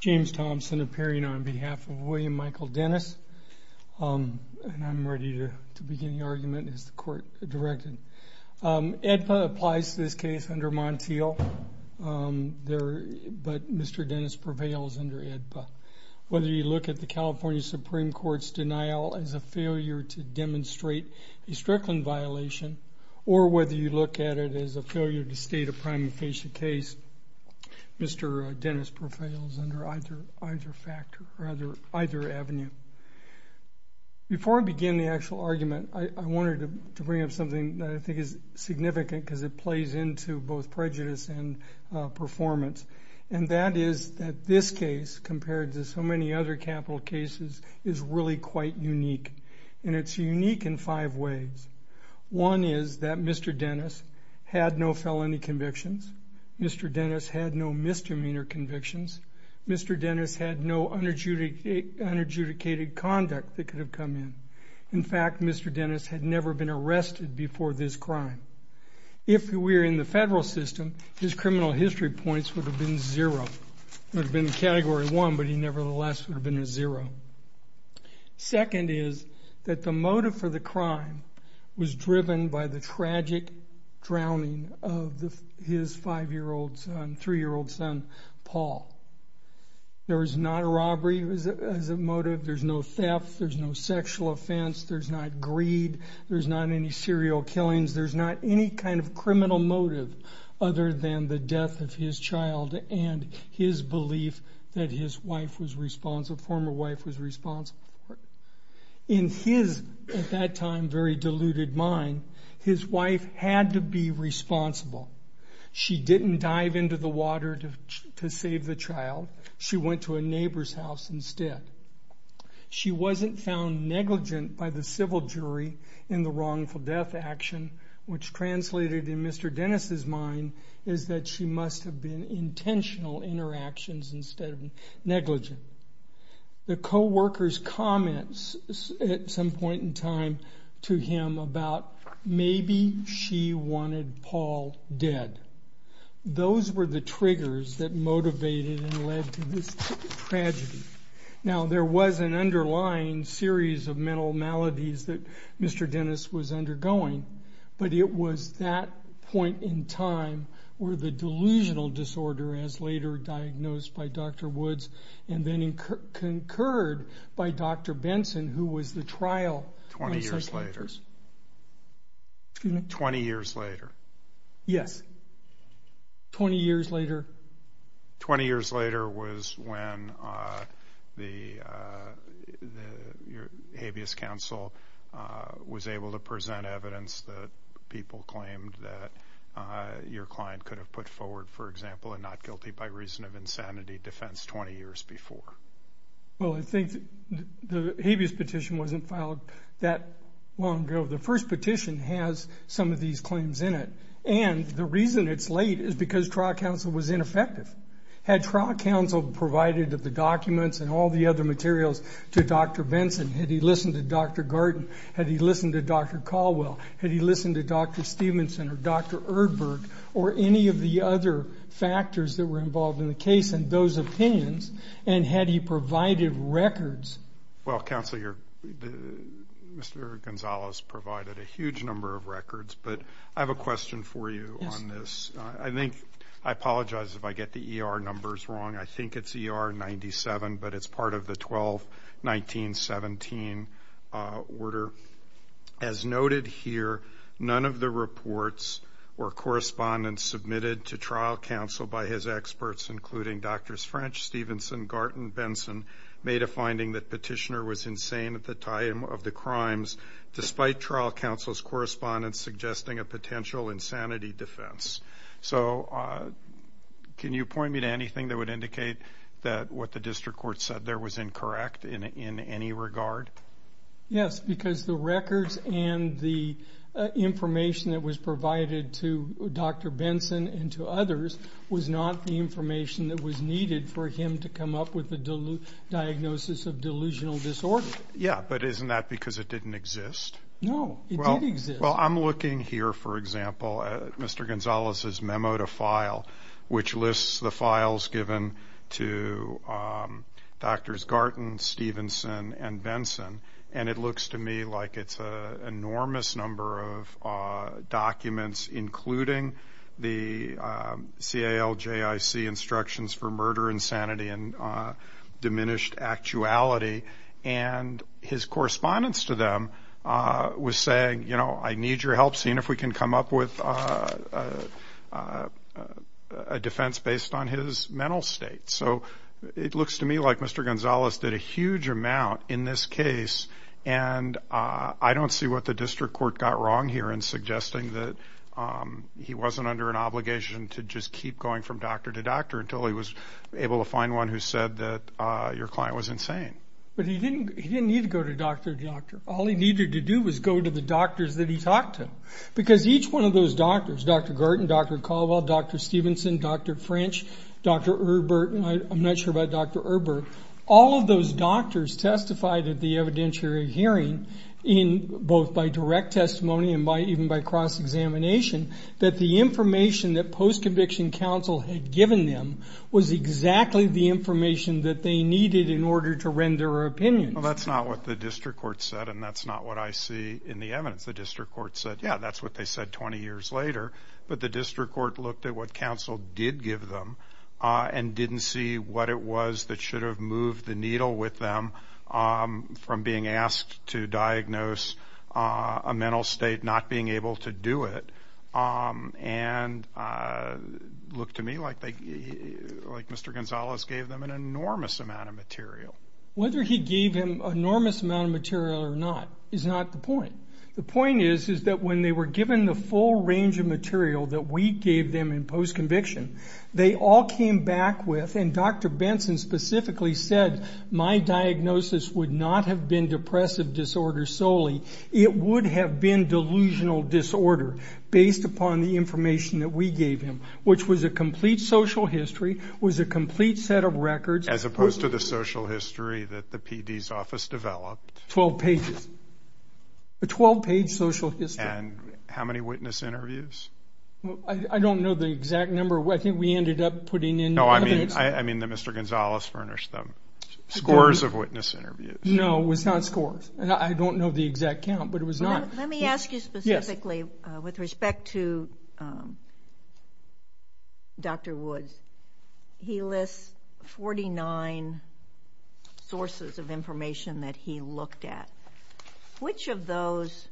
James Thompson appearing on behalf of William Michael Dennis. I'm ready to begin the argument as the court directed. AEDPA applies to this case under Montiel but Mr. Dennis prevails under AEDPA. Whether you look at the California Supreme Court's denial as a failure to demonstrate a Strickland violation or whether you look at it as a failure to state a prima facie case, Mr. Dennis prevails under either avenue. Before I begin the actual argument, I wanted to bring up something that I think is significant because it plays into both prejudice and performance. And that is that this case, compared to so many other capital cases, is really quite unique. And it's unique in five ways. One is that Mr. Dennis had no felony convictions. Mr. Dennis had no misdemeanor convictions. Mr. Dennis had no unadjudicated conduct that could have come in. In fact, Mr. Dennis had never been arrested before this crime. If we were in the federal system, his criminal history points would have been zero. It would have been category one, but he nevertheless would have been a zero. Second is that the motive for the crime was driven by the tragic drowning of his three-year-old son, Paul. There was not a robbery as a motive. There's no theft. There's no sexual offense. There's not greed. There's not any serial killings. There's not any kind of criminal motive other than the death of his child and his belief that his wife was responsible, former wife was responsible for it. In his, at that time, very deluded mind, his wife had to be responsible. She didn't dive into the water to save the child. She went to a neighbor's house instead. She wasn't found negligent by the civil jury in the wrongful death action, which translated in Mr. Dennis's mind is that she must have been intentional in her actions instead of negligent. The co-worker's comments at some point in time to him about maybe she wanted Paul dead. Those were the triggers that motivated and led to this tragedy. Now, there was an underlying series of mental maladies that Mr. Dennis was undergoing, but it was that point in time where the delusional disorder as later diagnosed by Dr. Woods and then concurred by Dr. Benson, who was the trial psychiatrist. Twenty years later. Excuse me? Twenty years later. Yes. Twenty years later. Twenty years later was when the habeas counsel was able to present evidence that people claimed that your client could have put forward, for example, a not guilty by reason of insanity defense 20 years before. Well, I think the habeas petition wasn't filed that long ago. The first petition has some of these claims in it. And the reason it's late is because trial counsel was ineffective. Had trial counsel provided the documents and all the other materials to Dr. Benson, had he listened to Dr. Gordon, had he listened to Dr. Caldwell, had he listened to Dr. Stevenson or Dr. Erdberg or any of the other factors that were involved in the case and those opinions, and had he provided records. Well, counsel, Mr. Gonzales provided a huge number of records, but I have a question for you on this. I apologize if I get the ER numbers wrong. I think it's ER 97, but it's part of the 12-19-17 order. As noted here, none of the reports or correspondence submitted to trial counsel by his experts, including Drs. French, Stevenson, Garten, Benson, made a finding that Petitioner was insane at the time of the crimes, despite trial counsel's correspondence suggesting a potential insanity defense. So can you point me to anything that would indicate that what the district court said there was incorrect in any regard? Yes, because the records and the information that was provided to Dr. Benson and to others was not the information that was needed for him to come up with a diagnosis of delusional disorder. Yeah, but isn't that because it didn't exist? No, it did exist. Well, I'm looking here, for example, at Mr. Gonzales' memo to file, which lists the files given to Drs. Garten, Stevenson, and Benson, and it looks to me like it's an enormous number of documents, including the CALJIC instructions for murder, insanity, and diminished actuality. And his correspondence to them was saying, you know, I need your help seeing if we can come up with a defense based on his mental state. So it looks to me like Mr. Gonzales did a huge amount in this case, and I don't see what the district court got wrong here in suggesting that he wasn't under an obligation to just keep going from doctor to doctor until he was able to find one who said that your client was insane. But he didn't need to go to doctor to doctor. All he needed to do was go to the doctors that he talked to, because each one of those doctors, Dr. Garten, Dr. Caldwell, Dr. Stevenson, Dr. French, Dr. Erbert, I'm not sure about Dr. Erbert, all of those doctors testified at the evidentiary hearing, both by direct testimony and even by cross-examination, that the information that post-conviction counsel had given them was exactly the information that they needed in order to render opinions. Well, that's not what the district court said, and that's not what I see in the evidence. The district court said, yeah, that's what they said 20 years later, but the district court looked at what counsel did give them and didn't see what it was that should have moved the needle with them from being asked to diagnose a mental state not being able to do it and looked to me like Mr. Gonzalez gave them an enormous amount of material. Whether he gave him an enormous amount of material or not is not the point. The point is that when they were given the full range of material that we gave them in post-conviction, they all came back with, and Dr. Benson specifically said, my diagnosis would not have been depressive disorder solely. It would have been delusional disorder based upon the information that we gave him, which was a complete social history, was a complete set of records. As opposed to the social history that the PD's office developed. Twelve pages. A 12-page social history. And how many witness interviews? I don't know the exact number. I think we ended up putting in evidence. No, I mean that Mr. Gonzalez furnished them. Scores of witness interviews. No, it was not scores. I don't know the exact count, but it was not. Let me ask you specifically with respect to Dr. Woods. He lists 49 sources of information that he looked at. Which of those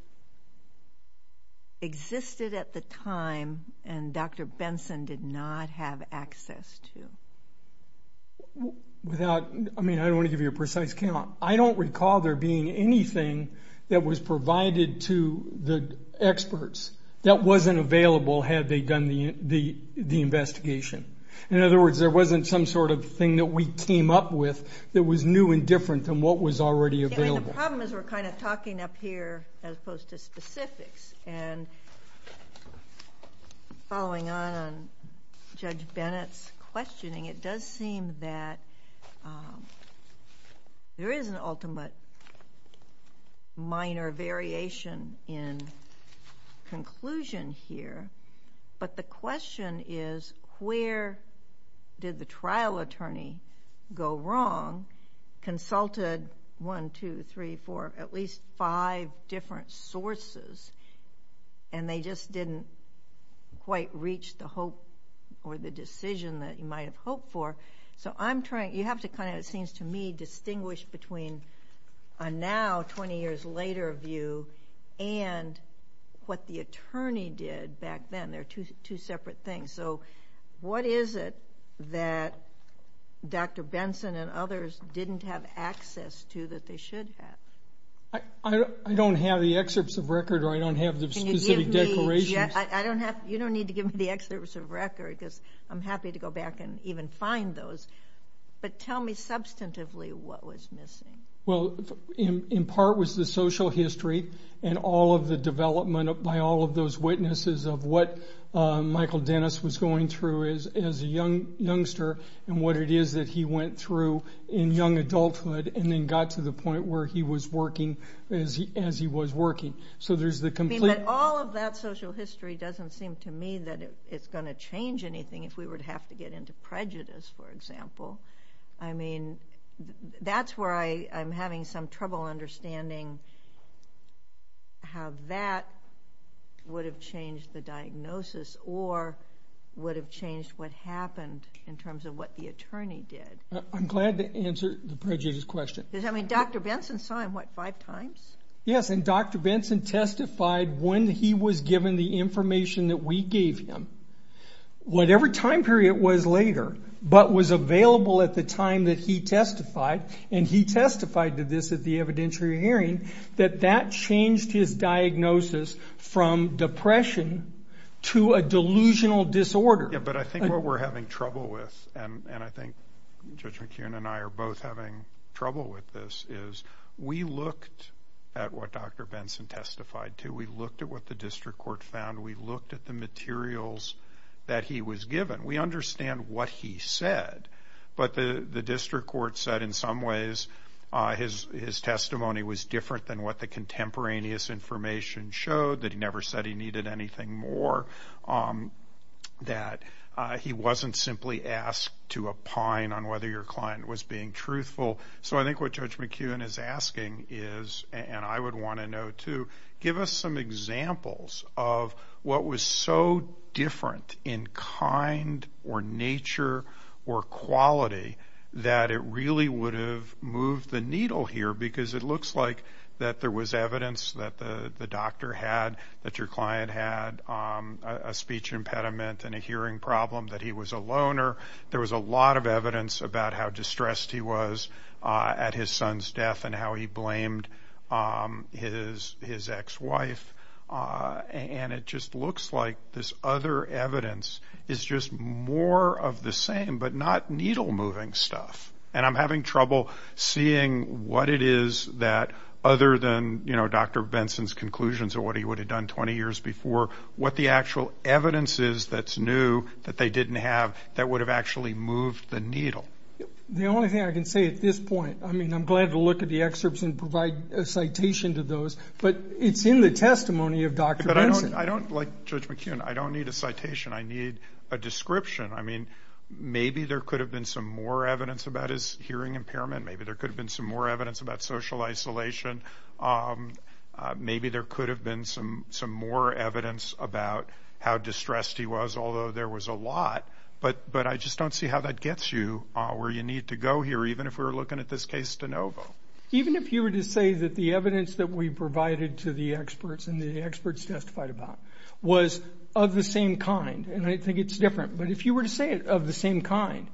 existed at the time and Dr. Benson did not have access to? I don't want to give you a precise count. I don't recall there being anything that was provided to the experts that wasn't available had they done the investigation. In other words, there wasn't some sort of thing that we came up with that was new and different than what was already available. The problem is we're kind of talking up here as opposed to specifics. And following on Judge Bennett's questioning, it does seem that there is an ultimate minor variation in conclusion here. But the question is where did the trial attorney go wrong, consulted one, two, three, four, at least five different sources, and they just didn't quite reach the hope or the decision that you might have hoped for. So you have to kind of, it seems to me, distinguish between a now, 20 years later view and what the attorney did back then. They're two separate things. So what is it that Dr. Benson and others didn't have access to that they should have? I don't have the excerpts of record or I don't have the specific declarations. You don't need to give me the excerpts of record because I'm happy to go back and even find those. But tell me substantively what was missing. Well, in part was the social history and all of the development by all of those witnesses of what Michael Dennis was going through as a youngster and what it is that he went through in young adulthood and then got to the point where he was working as he was working. But all of that social history doesn't seem to me that it's going to change anything if we were to have to get into prejudice, for example. I mean, that's where I'm having some trouble understanding how that would have changed the diagnosis or would have changed what happened in terms of what the attorney did. I'm glad to answer the prejudice question. Does that mean Dr. Benson saw him, what, five times? Yes, and Dr. Benson testified when he was given the information that we gave him, whatever time period was later, but was available at the time that he testified, and he testified to this at the evidentiary hearing, that that changed his diagnosis from depression to a delusional disorder. But I think what we're having trouble with, and I think Judge McKeon and I are both having trouble with this, is we looked at what Dr. Benson testified to. We looked at what the district court found. We looked at the materials that he was given. We understand what he said, but the district court said in some ways his testimony was different than what the contemporaneous information showed, that he never said he needed anything more. That he wasn't simply asked to opine on whether your client was being truthful. So I think what Judge McKeon is asking is, and I would want to know too, give us some examples of what was so different in kind or nature or quality that it really would have moved the needle here, because it looks like that there was evidence that the doctor had, that your client had a speech impediment and a hearing problem, that he was a loner. There was a lot of evidence about how distressed he was at his son's death and how he blamed his ex-wife. And it just looks like this other evidence is just more of the same, but not needle-moving stuff. And I'm having trouble seeing what it is that, other than Dr. Benson's conclusions of what he would have done 20 years before, what the actual evidence is that's new that they didn't have that would have actually moved the needle. The only thing I can say at this point, I mean, I'm glad to look at the excerpts and provide a citation to those, but it's in the testimony of Dr. Benson. But I don't, like Judge McKeon, I don't need a citation. I need a description. I mean, maybe there could have been some more evidence about his hearing impairment. Maybe there could have been some more evidence about social isolation. Maybe there could have been some more evidence about how distressed he was, although there was a lot. But I just don't see how that gets you where you need to go here, even if we were looking at this case de novo. Even if you were to say that the evidence that we provided to the experts and the experts testified about was of the same kind, and I think it's different, but if you were to say it of the same kind,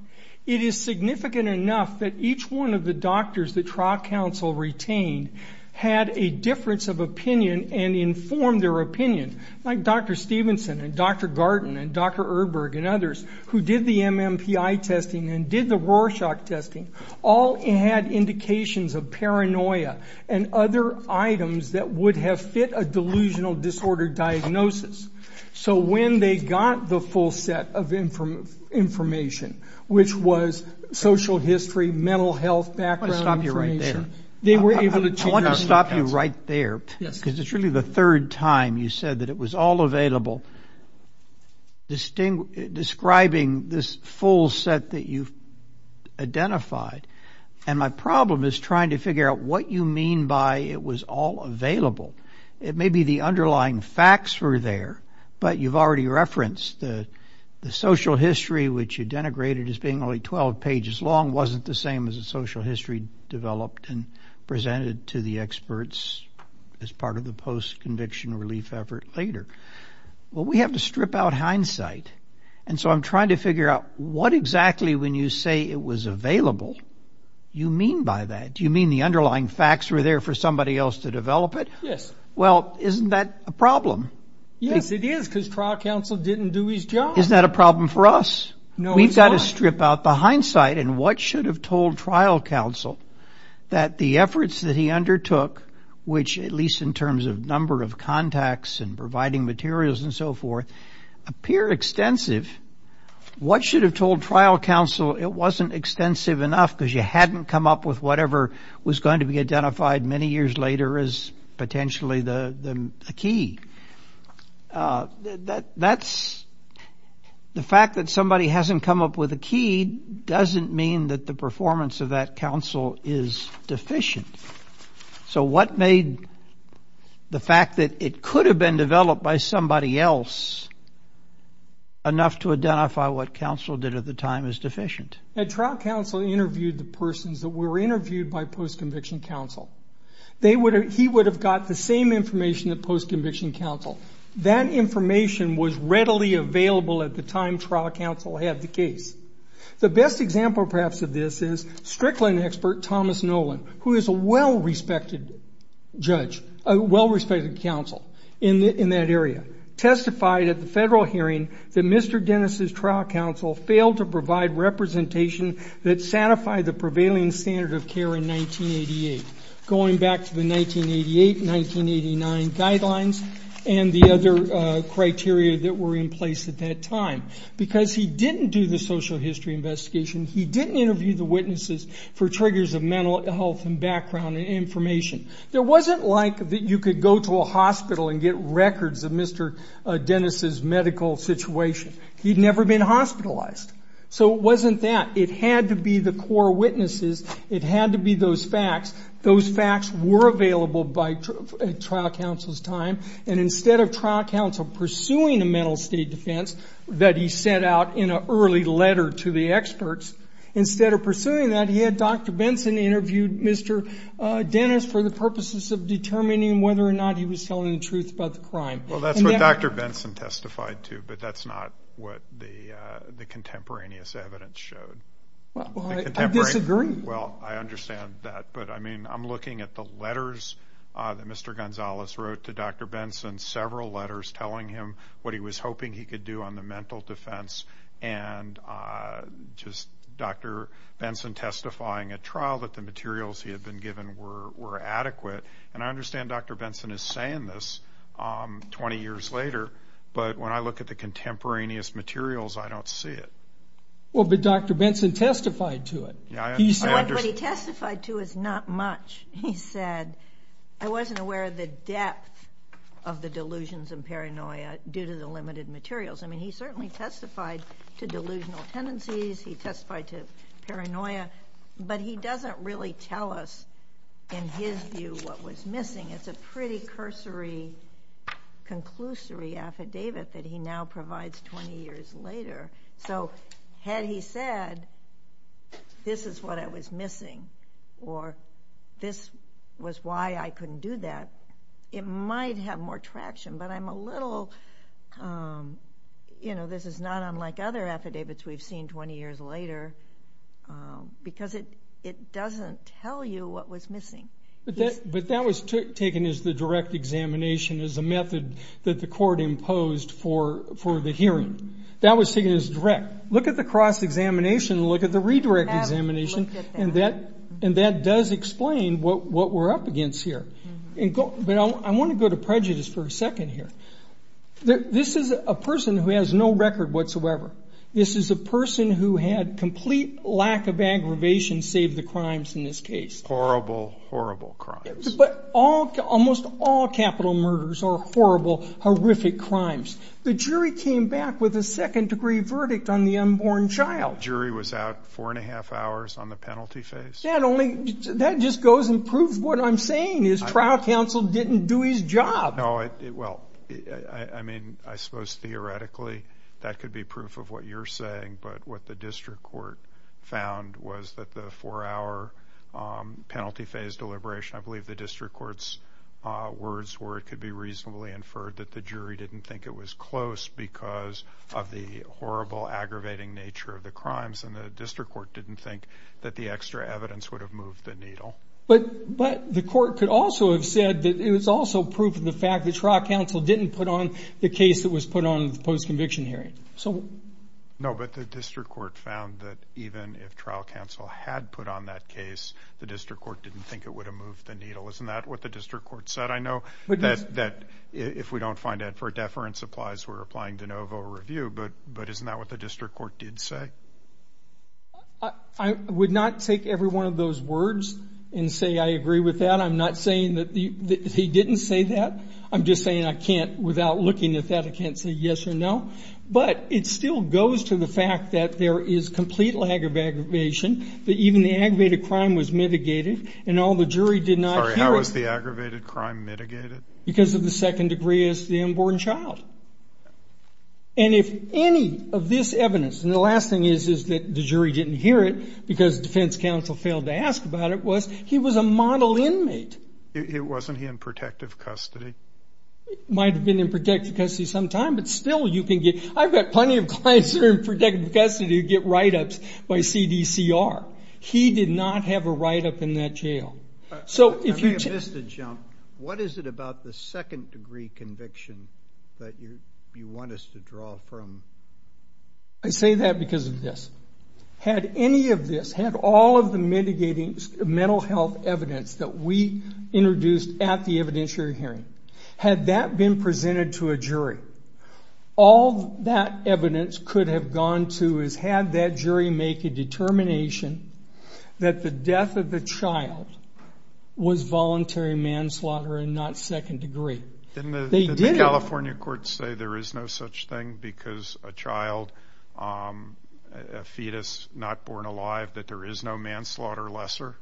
it is significant enough that each one of the doctors that trial counsel retained had a difference of opinion and informed their opinion, like Dr. Stevenson and Dr. Garten and Dr. Erdberg and others, who did the MMPI testing and did the Rorschach testing, all had indications of paranoia and other items that would have fit a delusional disorder diagnosis. So when they got the full set of information, which was social history, mental health background information, they were able to change their opinion. I want to stop you right there, because it's really the third time you said that it was all available, describing this full set that you've identified. And my problem is trying to figure out what you mean by it was all available. It may be the underlying facts were there, but you've already referenced the social history, which you denigrated as being only 12 pages long, wasn't the same as the social history developed and presented to the experts as part of the post-conviction relief effort later. Well, we have to strip out hindsight, and so I'm trying to figure out what exactly, when you say it was available, you mean by that. Do you mean the underlying facts were there for somebody else to develop it? Yes. Well, isn't that a problem? Yes, it is, because trial counsel didn't do his job. Isn't that a problem for us? No, it's not. We've got to strip out the hindsight, and what should have told trial counsel that the efforts that he undertook, which at least in terms of number of contacts and providing materials and so forth, appear extensive. What should have told trial counsel it wasn't extensive enough because you hadn't come up with whatever was going to be identified many years later as potentially the key? That's the fact that somebody hasn't come up with a key doesn't mean that the performance of that counsel is deficient. So what made the fact that it could have been developed by somebody else enough to identify what counsel did at the time as deficient? Trial counsel interviewed the persons that were interviewed by post-conviction counsel. He would have got the same information that post-conviction counsel. That information was readily available at the time trial counsel had the case. The best example, perhaps, of this is Strickland expert Thomas Nolan, who is a well-respected judge, a well-respected counsel in that area, testified at the federal hearing that Mr. Dennis' trial counsel failed to provide representation that satisfied the prevailing standard of care in 1988, going back to the 1988-1989 guidelines and the other criteria that were in place at that time. Because he didn't do the social history investigation, he didn't interview the witnesses for triggers of mental health and background information. There wasn't like that you could go to a hospital and get records of Mr. Dennis' medical situation. He had never been hospitalized. So it wasn't that. It had to be the core witnesses. It had to be those facts. Those facts were available by trial counsel's time. And instead of trial counsel pursuing a mental state defense that he set out in an early letter to the experts, instead of pursuing that, he had Dr. Benson interview Mr. Dennis for the purposes of determining whether or not he was telling the truth about the crime. Well, that's what Dr. Benson testified to, but that's not what the contemporaneous evidence showed. Well, I disagree. Well, I understand that. But, I mean, I'm looking at the letters that Mr. Gonzalez wrote to Dr. Benson, several letters telling him what he was hoping he could do on the mental defense, and just Dr. Benson testifying at trial that the materials he had been given were adequate. And I understand Dr. Benson is saying this 20 years later, but when I look at the contemporaneous materials, I don't see it. Well, but Dr. Benson testified to it. What he testified to is not much. He said, I wasn't aware of the depth of the delusions and paranoia due to the limited materials. I mean, he certainly testified to delusional tendencies. He testified to paranoia. But he doesn't really tell us, in his view, what was missing. It's a pretty cursory, conclusory affidavit that he now provides 20 years later. So had he said, this is what I was missing, or this was why I couldn't do that, it might have more traction. But I'm a little, you know, this is not unlike other affidavits we've seen 20 years later, because it doesn't tell you what was missing. But that was taken as the direct examination as a method that the court imposed for the hearing. That was taken as direct. Look at the cross-examination and look at the redirect examination, and that does explain what we're up against here. But I want to go to prejudice for a second here. This is a person who has no record whatsoever. This is a person who had complete lack of aggravation save the crimes in this case. Horrible, horrible crimes. But almost all capital murders are horrible, horrific crimes. The jury came back with a second-degree verdict on the unborn child. The jury was out four and a half hours on the penalty phase. That just goes and proves what I'm saying is trial counsel didn't do his job. No, well, I mean, I suppose theoretically that could be proof of what you're saying, but what the district court found was that the four-hour penalty phase deliberation, I believe the district court's words were it could be reasonably inferred that the jury didn't think it was close because of the horrible, aggravating nature of the crimes, and the district court didn't think that the extra evidence would have moved the needle. But the court could also have said that it was also proof of the fact that trial counsel didn't put on the case that was put on the post-conviction hearing. No, but the district court found that even if trial counsel had put on that case, the district court didn't think it would have moved the needle. Isn't that what the district court said? I know that if we don't find out for deference applies, we're applying de novo review, but isn't that what the district court did say? I would not take every one of those words and say I agree with that. I'm not saying that he didn't say that. I'm just saying I can't, without looking at that, I can't say yes or no. But it still goes to the fact that there is complete lack of aggravation, that even the aggravated crime was mitigated, and all the jury did not hear it. Sorry, how was the aggravated crime mitigated? Because of the second degree as the unborn child. And if any of this evidence, and the last thing is that the jury didn't hear it because defense counsel failed to ask about it, was he was a model inmate. Wasn't he in protective custody? Might have been in protective custody some time, but still you can get, I've got plenty of clients that are in protective custody who get write-ups by CDCR. He did not have a write-up in that jail. I may have missed a jump. What is it about the second degree conviction that you want us to draw from? I say that because of this. Had any of this, had all of the mitigating mental health evidence that we introduced at the evidentiary hearing, had that been presented to a jury, all that evidence could have gone to is had that jury make a determination that the death of the child was voluntary manslaughter and not second degree. Didn't the California courts say there is no such thing because a child, a fetus not born alive, that there is no manslaughter lesser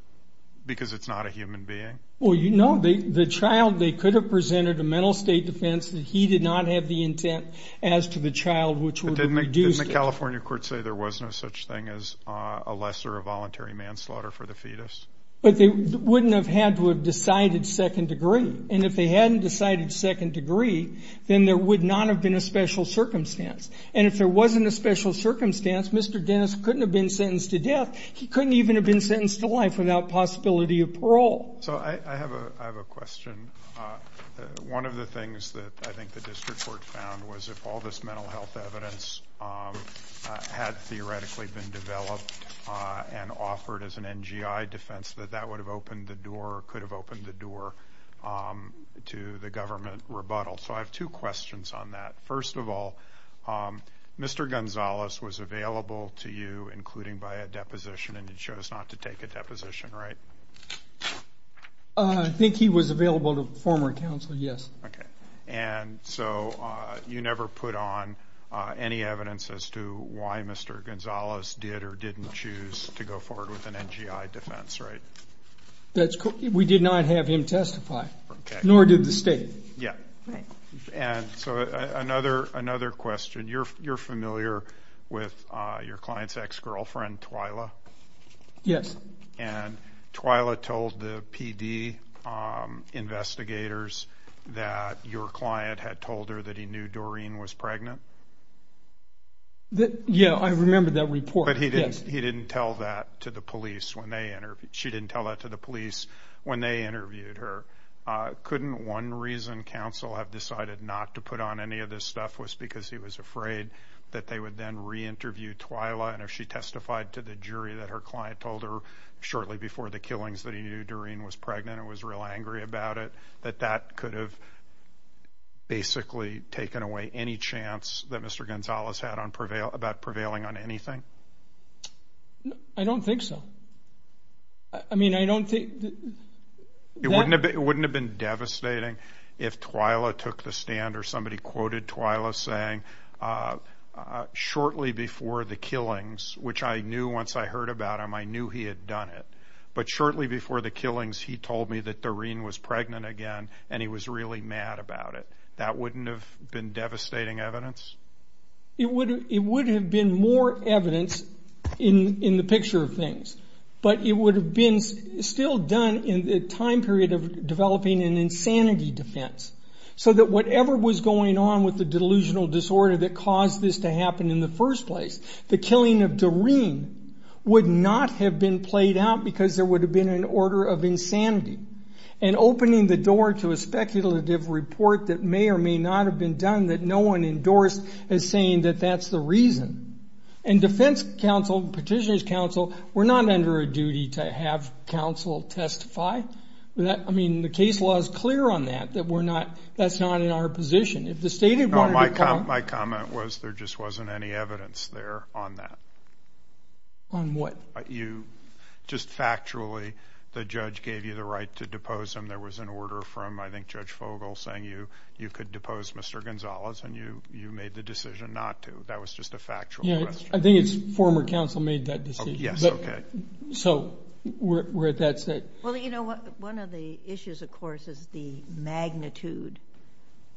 because it's not a human being? Well, you know, the child, they could have presented a mental state defense that he did not have the intent as to the child, which would have reduced it. Didn't the California courts say there was no such thing as a lesser of voluntary manslaughter for the fetus? But they wouldn't have had to have decided second degree. And if they hadn't decided second degree, then there would not have been a special circumstance. And if there wasn't a special circumstance, Mr. Dennis couldn't have been sentenced to death. He couldn't even have been sentenced to life without possibility of parole. So I have a question. One of the things that I think the district court found was if all this mental health evidence had theoretically been developed and offered as an NGI defense, that that would have opened the door or could have opened the door to the government rebuttal. So I have two questions on that. First of all, Mr. Gonzalez was available to you, including by a deposition, and you chose not to take a deposition, right? I think he was available to former counsel, yes. Okay. And so you never put on any evidence as to why Mr. Gonzalez did or didn't choose to go forward with an NGI defense, right? We did not have him testify, nor did the state. Yeah. And so another question. You're familiar with your client's ex-girlfriend, Twyla? Yes. And Twyla told the PD investigators that your client had told her that he knew Doreen was pregnant? Yeah, I remember that report. But he didn't tell that to the police when they interviewed her. She didn't tell that to the police when they interviewed her. Couldn't one reason counsel have decided not to put on any of this stuff was because he was afraid that they would then re-interview Twyla, and if she testified to the jury that her client told her shortly before the killings that he knew Doreen was pregnant and was real angry about it, that that could have basically taken away any chance that Mr. Gonzalez had about prevailing on anything? I don't think so. I mean, I don't think that... It wouldn't have been devastating if Twyla took the stand or somebody quoted Twyla saying, shortly before the killings, which I knew once I heard about him, I knew he had done it, but shortly before the killings he told me that Doreen was pregnant again and he was really mad about it. That wouldn't have been devastating evidence? It would have been more evidence in the picture of things, but it would have been still done in the time period of developing an insanity defense so that whatever was going on with the delusional disorder that caused this to happen in the first place, the killing of Doreen would not have been played out because there would have been an order of insanity, and opening the door to a speculative report that may or may not have been done that no one endorsed as saying that that's the reason. And defense counsel, petitioner's counsel, were not under a duty to have counsel testify. The case law is clear on that. That's not in our position. My comment was there just wasn't any evidence there on that. On what? Just factually, the judge gave you the right to depose him. There was an order from, I think, Judge Fogle saying you could depose Mr. Gonzalez, and you made the decision not to. That was just a factual question. I think it's former counsel made that decision. Yes, okay. So we're at that stage. Well, you know, one of the issues, of course, is the magnitude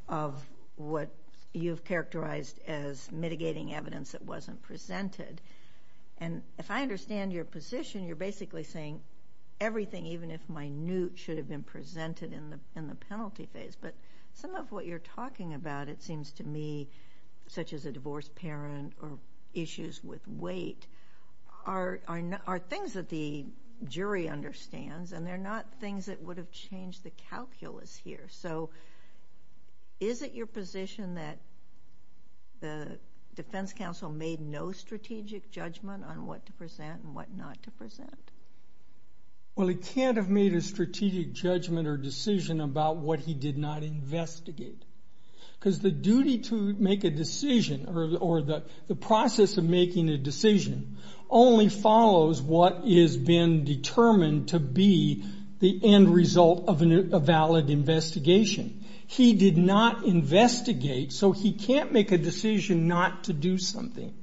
of what you've characterized as mitigating evidence that wasn't presented. And if I understand your position, you're basically saying everything, even if minute, should have been presented in the penalty phase. But some of what you're talking about, it seems to me, such as a divorced parent or issues with weight, are things that the jury understands, and they're not things that would have changed the calculus here. So is it your position that the defense counsel made no strategic judgment on what to present and what not to present? Well, he can't have made a strategic judgment or decision about what he did not investigate. Because the duty to make a decision or the process of making a decision only follows what has been determined to be the end result of a valid investigation. He did not investigate, so he can't make a decision not to do something.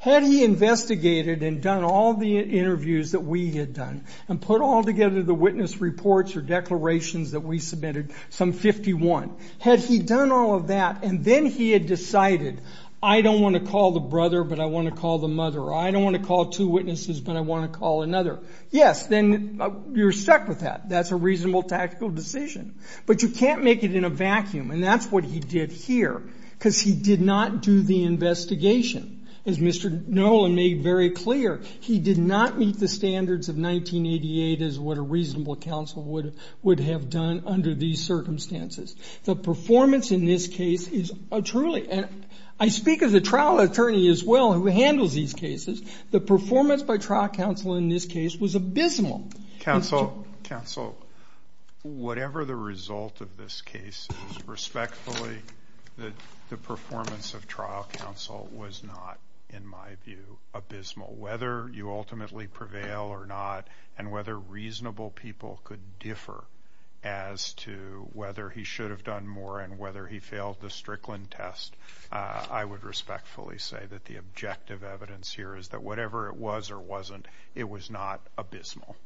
Had he investigated and done all the interviews that we had done and put all together the witness reports or declarations that we submitted, some 51, had he done all of that and then he had decided, I don't want to call the brother, but I want to call the mother, or I don't want to call two witnesses, but I want to call another, yes, then you're stuck with that. That's a reasonable tactical decision. But you can't make it in a vacuum, and that's what he did here, because he did not do the investigation. As Mr. Nolan made very clear, he did not meet the standards of 1988 as what a reasonable counsel would have done under these circumstances. The performance in this case is truly, and I speak as a trial attorney as well who handles these cases, the performance by trial counsel in this case was abysmal. Counsel, whatever the result of this case is, I would respectfully say that the performance of trial counsel was not, in my view, abysmal. Whether you ultimately prevail or not, and whether reasonable people could differ as to whether he should have done more and whether he failed the Strickland test, I would respectfully say that the objective evidence here is that whatever it was or wasn't, it was not abysmal.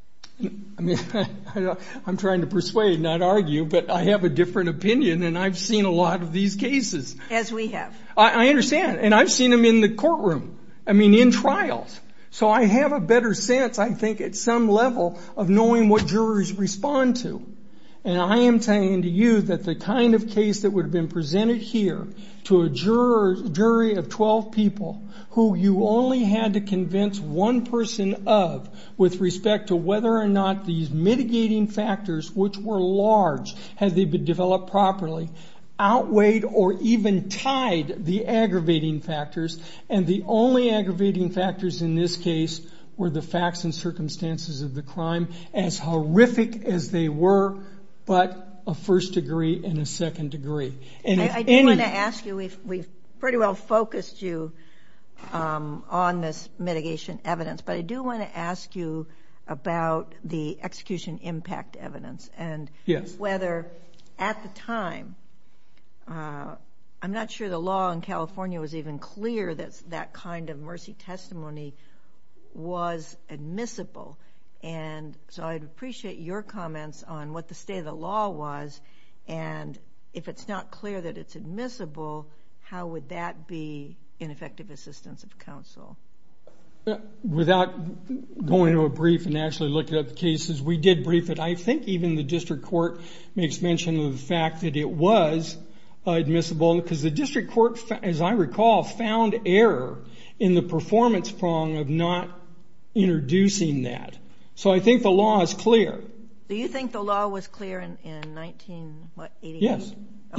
I'm trying to persuade, not argue, but I have a different opinion, and I've seen a lot of these cases. As we have. I understand. And I've seen them in the courtroom, I mean, in trials. So I have a better sense, I think, at some level of knowing what jurors respond to. And I am telling you that the kind of case that would have been presented here to a jury of 12 people who you only had to convince one person of with respect to whether or not these mitigating factors, which were large had they been developed properly, outweighed or even tied the aggravating factors, and the only aggravating factors in this case were the facts and circumstances of the crime, as horrific as they were, but a first degree and a second degree. I do want to ask you, we've pretty well focused you on this mitigation evidence, but I do want to ask you about the execution impact evidence and whether, at the time, I'm not sure the law in California was even clear that that kind of mercy testimony was admissible. And so I'd appreciate your comments on what the state of the law was, and if it's not clear that it's admissible, how would that be ineffective assistance of counsel? Without going into a brief and actually looking at the cases, we did brief it. I think even the district court makes mention of the fact that it was admissible, because the district court, as I recall, found error in the performance prong of not introducing that. So I think the law is clear. Do you think the law was clear in 1988?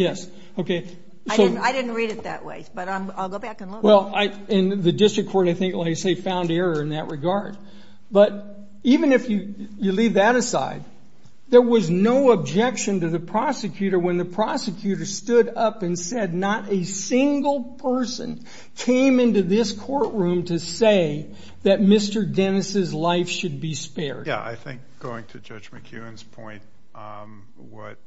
Yes. Okay. I didn't read it that way, but I'll go back and look. Well, and the district court, I think, like I say, found error in that regard. But even if you leave that aside, there was no objection to the prosecutor when the prosecutor stood up and said not a single person came into this courtroom to say that Mr. Dennis' life should be spared. Yeah, I think going to Judge McEwen's point, what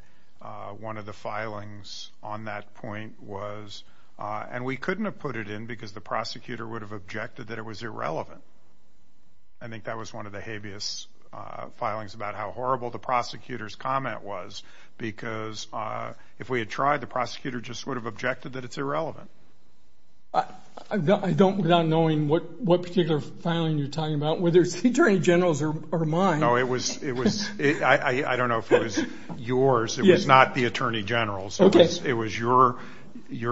one of the filings on that point was, and we couldn't have put it in because the prosecutor would have objected that it was irrelevant. I think that was one of the habeas filings about how horrible the prosecutor's comment was, because if we had tried, the prosecutor just would have objected that it's irrelevant. I don't, without knowing what particular filing you're talking about, whether it's the attorney general's or mine. No, it was, I don't know if it was yours. It was not the attorney general's. Okay. It was your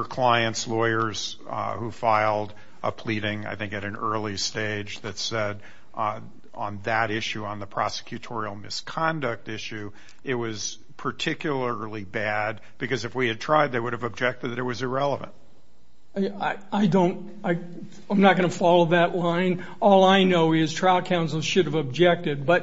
client's lawyers who filed a pleading, I think, at an early stage that said on that issue, on the prosecutorial misconduct issue, it was particularly bad because if we had tried, they would have objected that it was irrelevant. I don't, I'm not going to follow that line. All I know is trial counsel should have objected, and we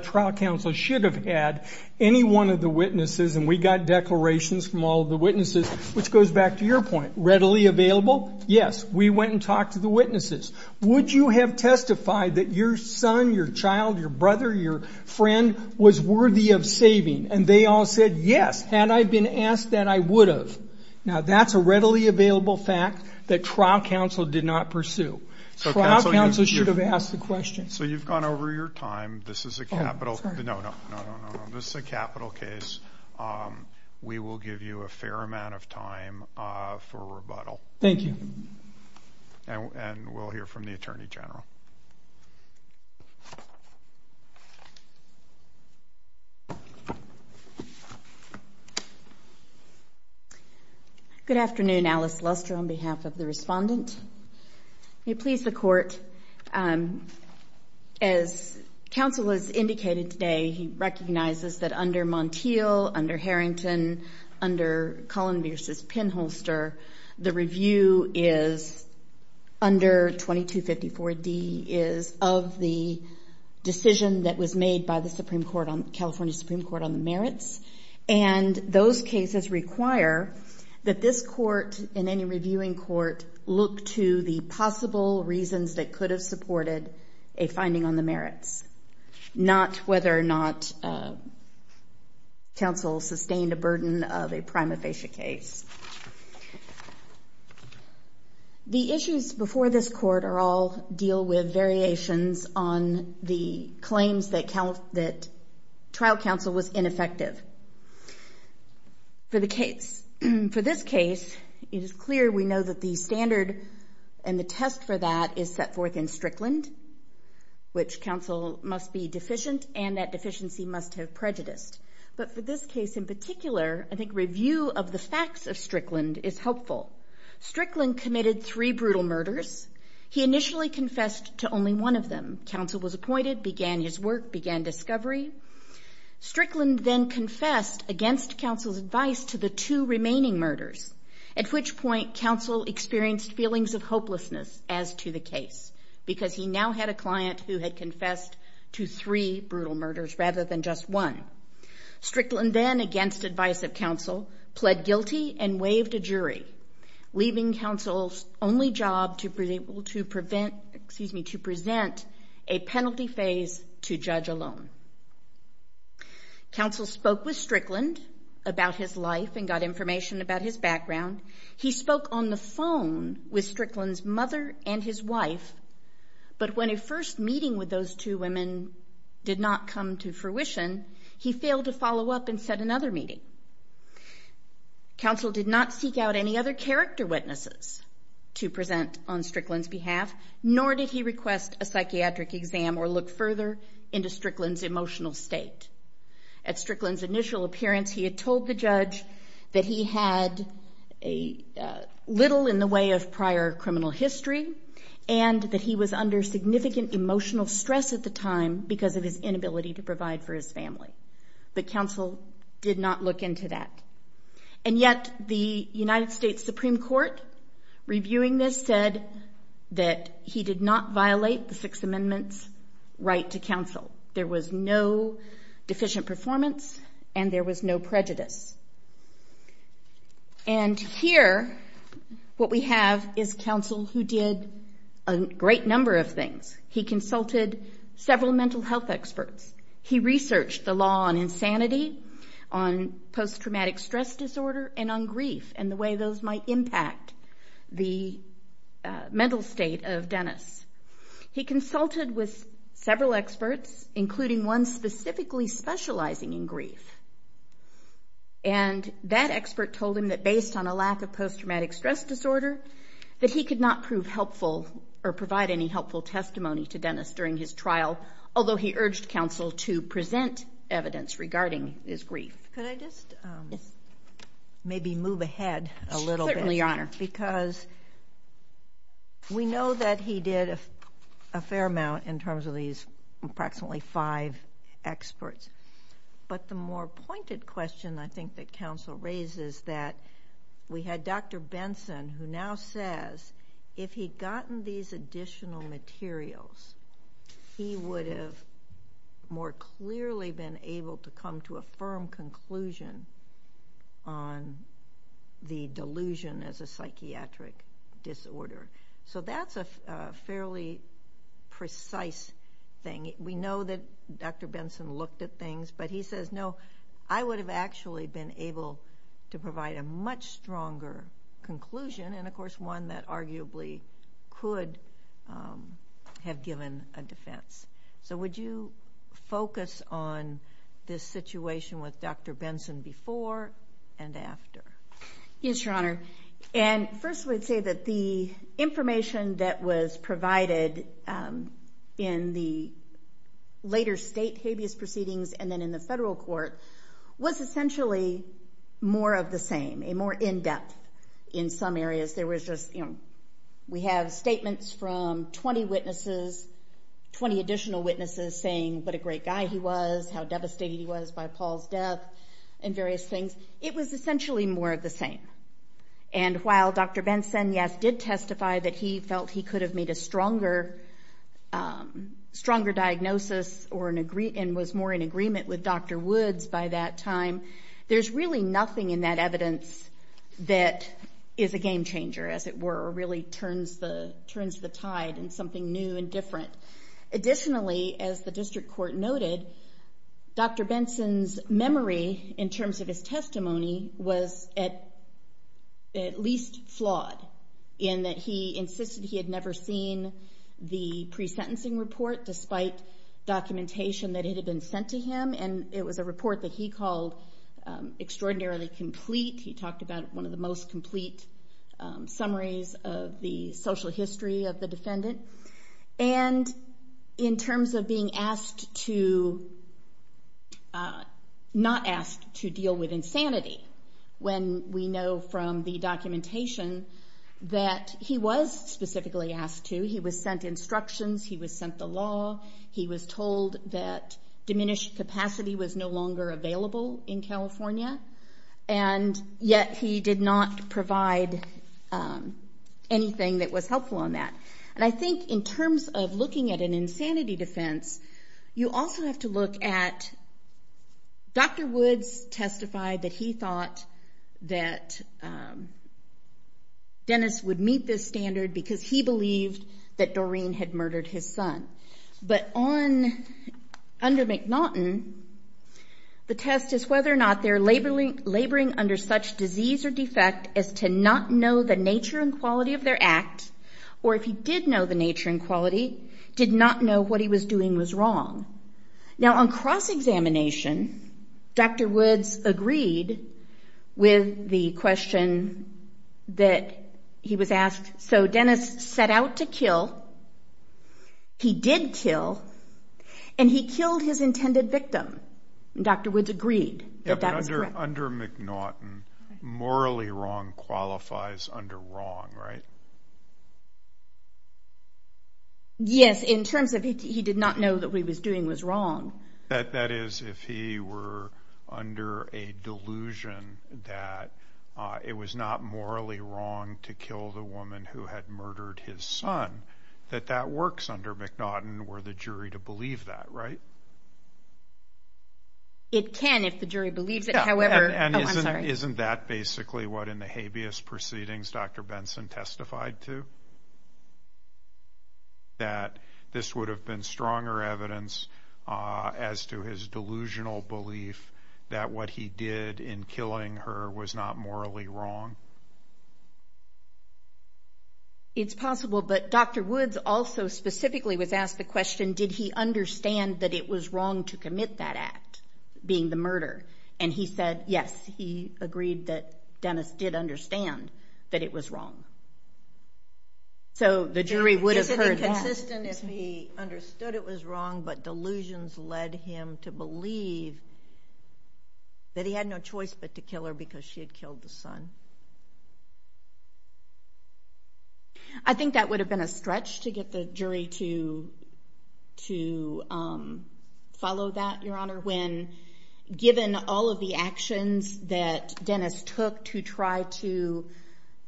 got declarations from all of the witnesses, which goes back to your point. Readily available? Yes. We went and talked to the witnesses. Would you have testified that your son, your child, your brother, your friend was worthy of saving? And they all said, yes. Had I been asked that, I would have. Now, that's a readily available fact that trial counsel did not pursue. So trial counsel should have asked the question. So you've gone over your time. This is a capital. Oh, sorry. No, no. This is a capital case. We will give you a fair amount of time for rebuttal. Thank you. And we'll hear from the Attorney General. Good afternoon. Alice Luster on behalf of the respondent. May it please the Court, as counsel has indicated today, he recognizes that under Montiel, under Harrington, under Cullen v. Pinholster, the review is under 2254D is of the decision that was made by the Supreme Court, California Supreme Court, on the merits. And those cases require that this Court and any reviewing court look to the possible reasons not whether or not counsel sustained a burden of a prima facie case. The issues before this Court all deal with variations on the claims that trial counsel was ineffective for the case. For this case, it is clear we know that the standard and the test for that is set forth in Strickland, which counsel must be deficient and that deficiency must have prejudiced. But for this case in particular, I think review of the facts of Strickland is helpful. Strickland committed three brutal murders. He initially confessed to only one of them. Counsel was appointed, began his work, began discovery. Strickland then confessed against counsel's advice to the two remaining murders, at which point counsel experienced feelings of hopelessness as to the case because he now had a client who had confessed to three brutal murders rather than just one. Strickland then, against advice of counsel, pled guilty and waived a jury, leaving counsel's only job to present a penalty phase to judge alone. Counsel spoke with Strickland about his life and got information about his background. He spoke on the phone with Strickland's mother and his wife, but when a first meeting with those two women did not come to fruition, he failed to follow up and set another meeting. Counsel did not seek out any other character witnesses to present on Strickland's behalf, nor did he request a psychiatric exam or look further into Strickland's emotional state. At Strickland's initial appearance, he had told the judge that he had little in the way of prior criminal history and that he was under significant emotional stress at the time because of his inability to provide for his family. But counsel did not look into that. And yet the United States Supreme Court, reviewing this, said that he did not violate the Sixth Amendment's right to counsel. There was no deficient performance and there was no prejudice. And here what we have is counsel who did a great number of things. He consulted several mental health experts. He researched the law on insanity, on post-traumatic stress disorder, and on grief and the way those might impact the mental state of Dennis. He consulted with several experts, including one specifically specializing in grief. And that expert told him that based on a lack of post-traumatic stress disorder, that he could not prove helpful or provide any helpful testimony to Dennis during his trial, although he urged counsel to present evidence regarding his grief. Could I just maybe move ahead a little bit? Certainly, Your Honor. Because we know that he did a fair amount in terms of these approximately five experts. But the more pointed question I think that counsel raises that we had Dr. Benson, who now says if he had gotten these additional materials, he would have more clearly been able to come to a firm conclusion on the delusion as a psychiatric disorder. So that's a fairly precise thing. We know that Dr. Benson looked at things, but he says, no, I would have actually been able to provide a much stronger conclusion, and, of course, one that arguably could have given a defense. So would you focus on this situation with Dr. Benson before and after? Yes, Your Honor. And first I would say that the information that was provided in the later state habeas proceedings and then in the federal court was essentially more of the same, more in-depth in some areas. We have statements from 20 additional witnesses saying what a great guy he was, how devastated he was by Paul's death, and various things. It was essentially more of the same. And while Dr. Benson, yes, did testify that he felt he could have made a stronger diagnosis and was more in agreement with Dr. Woods by that time, there's really nothing in that evidence that is a game changer, as it were, or really turns the tide in something new and different. Additionally, as the district court noted, Dr. Benson's memory in terms of his testimony was at least flawed in that he insisted he had never seen the pre-sentencing report, despite documentation that it had been sent to him. And it was a report that he called extraordinarily complete. He talked about one of the most complete summaries of the social history of the defendant. And in terms of being asked to not ask to deal with insanity, when we know from the documentation that he was specifically asked to, he was sent instructions, he was sent the law, he was told that diminished capacity was no longer available in California, and yet he did not provide anything that was helpful in that. And I think in terms of looking at an insanity defense, you also have to look at, Dr. Woods testified that he thought that Dennis would meet this standard because he believed that Doreen had murdered his son. But under McNaughton, the test is whether or not they're laboring under such disease or defect as to not know the nature and quality of their act, or if he did know the nature and quality, did not know what he was doing was wrong. Now, on cross-examination, Dr. Woods agreed with the question that he was asked. So Dennis set out to kill. He did kill. And he killed his intended victim. And Dr. Woods agreed that that was correct. But under McNaughton, morally wrong qualifies under wrong, right? Yes, in terms of he did not know that what he was doing was wrong. That is, if he were under a delusion that it was not morally wrong to kill the woman who had murdered his son, that that works under McNaughton were the jury to believe that, right? It can if the jury believes it. And isn't that basically what in the habeas proceedings Dr. Benson testified to? That this would have been stronger evidence as to his delusional belief that what he did in killing her was not morally wrong? It's possible. Well, but Dr. Woods also specifically was asked the question, did he understand that it was wrong to commit that act, being the murder? And he said, yes, he agreed that Dennis did understand that it was wrong. So the jury would have heard that. Is it inconsistent if he understood it was wrong, but delusions led him to believe that he had no choice but to kill her because she had killed the son? I think that would have been a stretch to get the jury to follow that, Your Honor, when given all of the actions that Dennis took to try to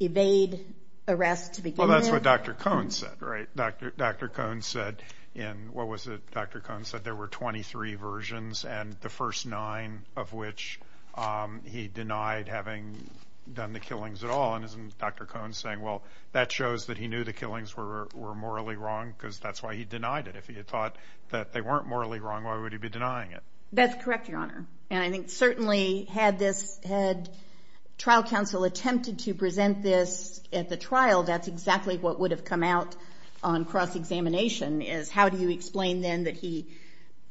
evade arrest to begin with. Well, that's what Dr. Cohn said, right? Dr. Cohn said in, what was it, Dr. Cohn said there were 23 versions, and the first nine of which he denied having done the killings at all. And isn't Dr. Cohn saying, well, that shows that he knew the killings were morally wrong, because that's why he denied it. If he had thought that they weren't morally wrong, why would he be denying it? That's correct, Your Honor. And I think certainly had trial counsel attempted to present this at the trial, that's exactly what would have come out on cross-examination, is how do you explain then that he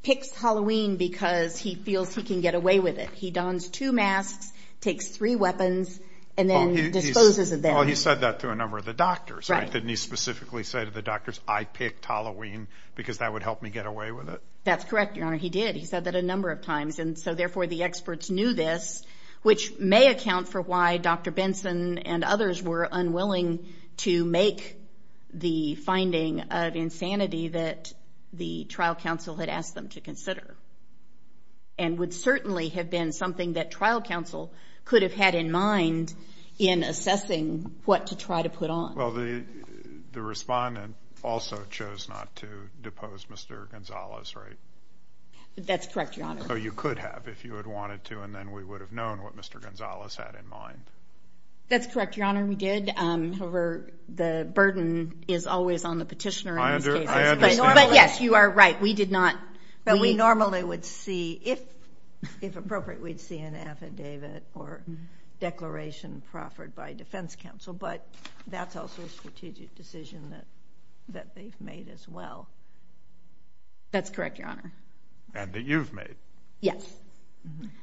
picks Halloween because he feels he can get away with it. He dons two masks, takes three weapons, and then disposes of them. Well, he said that to a number of the doctors, right? Didn't he specifically say to the doctors, I picked Halloween because that would help me get away with it? That's correct, Your Honor. He did. He said that a number of times, and so therefore the experts knew this, which may account for why Dr. Benson and others were unwilling to make the finding of insanity that the trial counsel had asked them to consider, and would certainly have been something that trial counsel could have had in mind in assessing what to try to put on. Well, the respondent also chose not to depose Mr. Gonzales, right? That's correct, Your Honor. So you could have if you had wanted to, and then we would have known what Mr. Gonzales had in mind. That's correct, Your Honor. We did. However, the burden is always on the petitioner in these cases. But yes, you are right. We did not. But we normally would see, if appropriate, we'd see an affidavit or declaration proffered by defense counsel, but that's also a strategic decision that they've made as well. That's correct, Your Honor. And that you've made. Yes.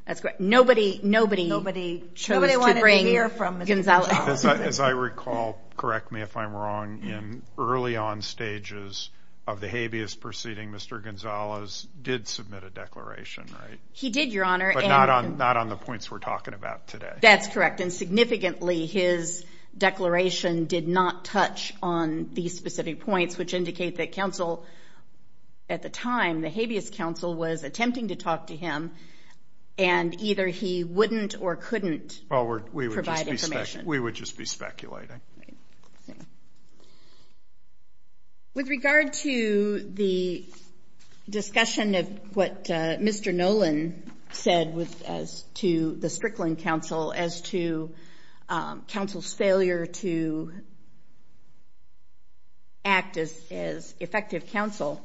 That's correct. Nobody chose to bring Gonzales. As I recall, correct me if I'm wrong, in early on stages of the habeas proceeding, Mr. Gonzales did submit a declaration, right? He did, Your Honor. But not on the points we're talking about today. That's correct, and significantly his declaration did not touch on these specific points, which indicate that counsel, at the time, the habeas counsel was attempting to talk to him, and either he wouldn't or couldn't provide information. We would just be speculating. With regard to the discussion of what Mr. Nolan said as to the Strickland counsel, as to counsel's failure to act as effective counsel,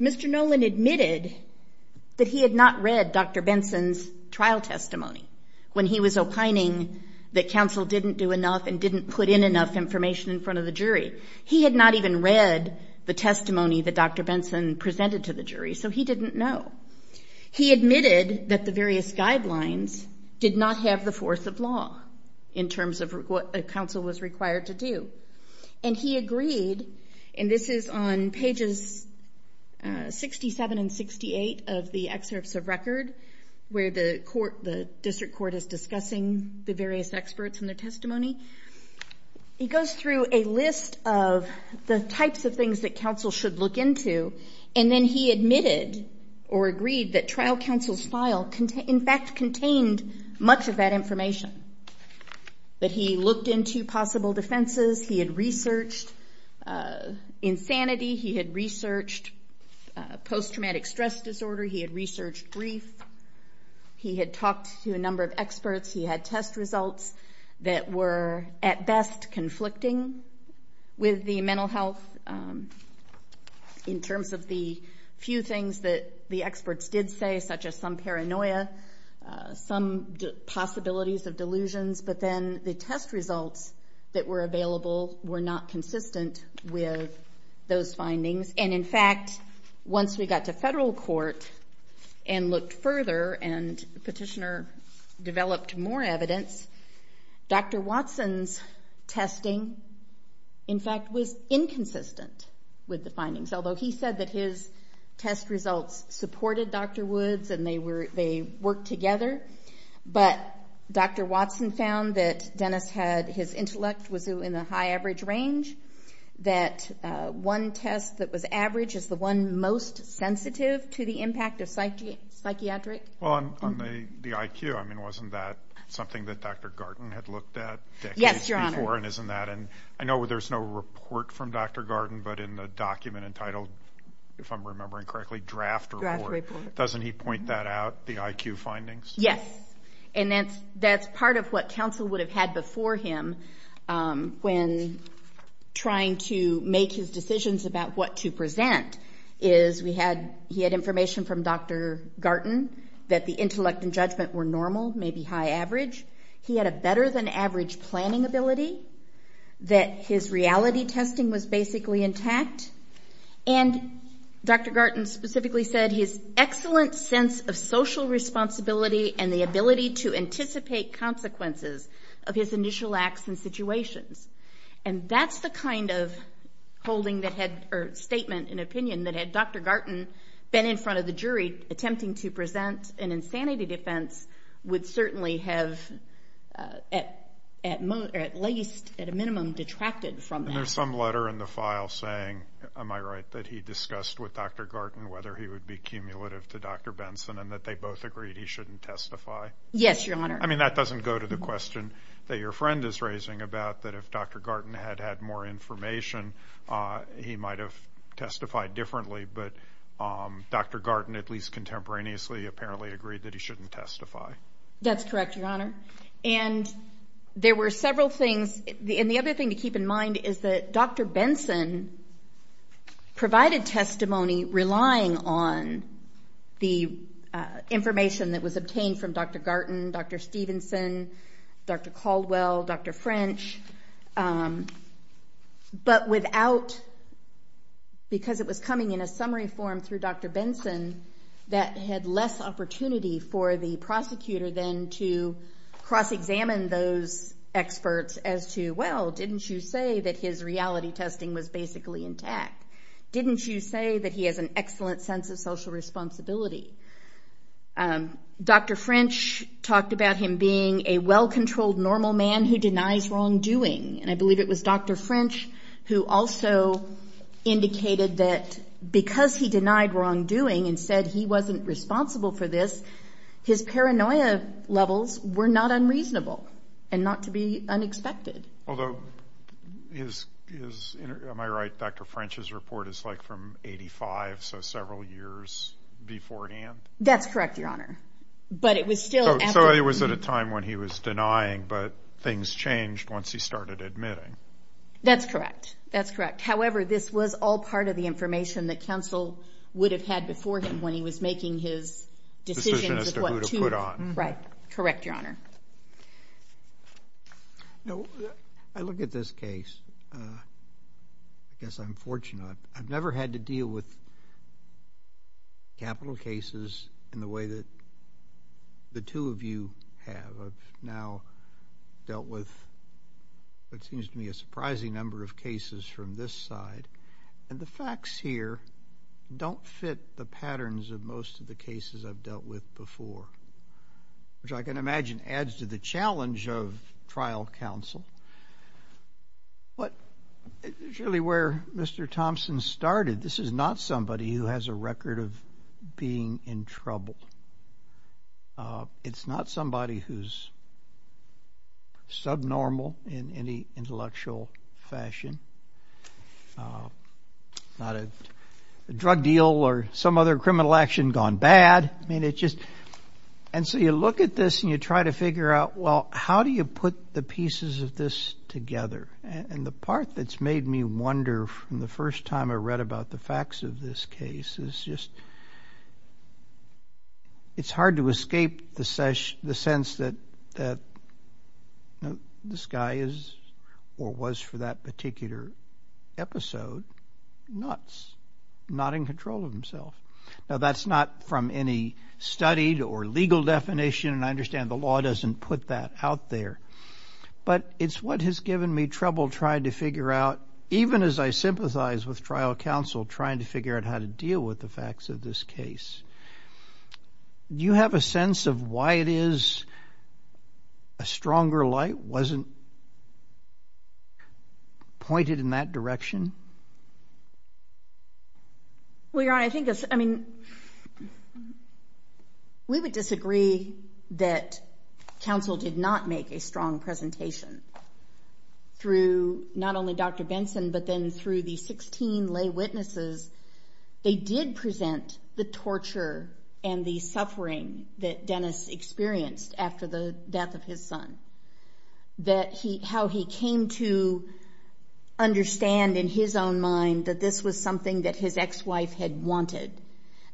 Mr. Nolan admitted that he had not read Dr. Benson's trial testimony, when he was opining that counsel didn't do enough and didn't put in enough information in front of the jury. He had not even read the testimony that Dr. Benson presented to the jury, so he didn't know. He admitted that the various guidelines did not have the force of law in terms of what counsel was required to do. And he agreed, and this is on pages 67 and 68 of the excerpts of record, where the district court is discussing the various experts and their testimony. He goes through a list of the types of things that counsel should look into, and then he admitted or agreed that trial counsel's file, in fact, contained much of that information. But he looked into possible defenses. He had researched insanity. He had researched post-traumatic stress disorder. He had researched grief. He had talked to a number of experts. He had test results that were, at best, conflicting with the mental health in terms of the few things that the experts did say, such as some paranoia, some possibilities of delusions. But then the test results that were available were not consistent with those findings. And, in fact, once we got to federal court and looked further and the petitioner developed more evidence, Dr. Watson's testing, in fact, was inconsistent with the findings, although he said that his test results supported Dr. Wood's and they worked together. But Dr. Watson found that Dennis had his intellect was in the high-average range, that one test that was average is the one most sensitive to the impact of psychiatric. Well, on the IQ, I mean, wasn't that something that Dr. Gardner had looked at decades before? Yes, Your Honor. And isn't that in? I know there's no report from Dr. Gardner, but in the document entitled, if I'm remembering correctly, draft report. Draft report. Doesn't he point that out, the IQ findings? Yes. And that's part of what counsel would have had before him when trying to make his decisions about what to present, is he had information from Dr. Garten that the intellect and judgment were normal, maybe high-average. He had a better-than-average planning ability, that his reality testing was basically intact. And Dr. Garten specifically said his excellent sense of social responsibility and the ability to anticipate consequences of his initial acts and situations. And that's the kind of statement and opinion that had Dr. Garten been in front of the jury attempting to present an insanity defense would certainly have at least, at a minimum, detracted from that. And there's some letter in the file saying, am I right, that he discussed with Dr. Garten whether he would be cumulative to Dr. Benson and that they both agreed he shouldn't testify? Yes, Your Honor. I mean, that doesn't go to the question that your friend is raising about that if Dr. Garten had had more information, he might have testified differently. But Dr. Garten, at least contemporaneously, apparently agreed that he shouldn't testify. That's correct, Your Honor. And there were several things. And the other thing to keep in mind is that Dr. Benson provided testimony relying on the information that was obtained from Dr. Garten, Dr. Stevenson, Dr. Caldwell, Dr. French, but without because it was coming in a summary form through Dr. Benson that had less opportunity for the prosecutor then to cross-examine those experts as to, well, didn't you say that his reality testing was basically intact? Didn't you say that he has an excellent sense of social responsibility? Dr. French talked about him being a well-controlled, normal man who denies wrongdoing. And I believe it was Dr. French who also indicated that because he denied wrongdoing and said he wasn't responsible for this, his paranoia levels were not unreasonable and not to be unexpected. Although, am I right, Dr. French's report is like from 85, so several years beforehand? That's correct, Your Honor. So he was at a time when he was denying, but things changed once he started admitting. That's correct. However, this was all part of the information that counsel would have had before him when he was making his decisions as to who to put on. Right. Correct, Your Honor. I look at this case, I guess I'm fortunate. I've never had to deal with capital cases in the way that the two of you have. I've now dealt with, it seems to me, a surprising number of cases from this side. And the facts here don't fit the patterns of most of the cases I've dealt with before, which I can imagine adds to the challenge of trial counsel. But it's really where Mr. Thompson started. This is not somebody who has a record of being in trouble. It's not somebody who's subnormal in any intellectual fashion, not a drug deal or some other criminal action gone bad. I mean, it's just, and so you look at this and you try to figure out, well, how do you put the pieces of this together? And the part that's made me wonder from the first time I read about the facts of this case is just, it's hard to escape the sense that this guy is or was for that particular episode nuts, not in control of himself. Now, that's not from any studied or legal definition, and I understand the law doesn't put that out there. But it's what has given me trouble trying to figure out, even as I sympathize with trial counsel trying to figure out how to deal with the facts of this case. Do you have a sense of why it is a stronger light wasn't pointed in that direction? Well, Your Honor, I think, I mean, we would disagree that counsel did not make a strong presentation. Through not only Dr. Benson, but then through the 16 lay witnesses, they did present the torture and the suffering that Dennis experienced after the death of his son. That how he came to understand in his own mind that this was something that his ex-wife had wanted,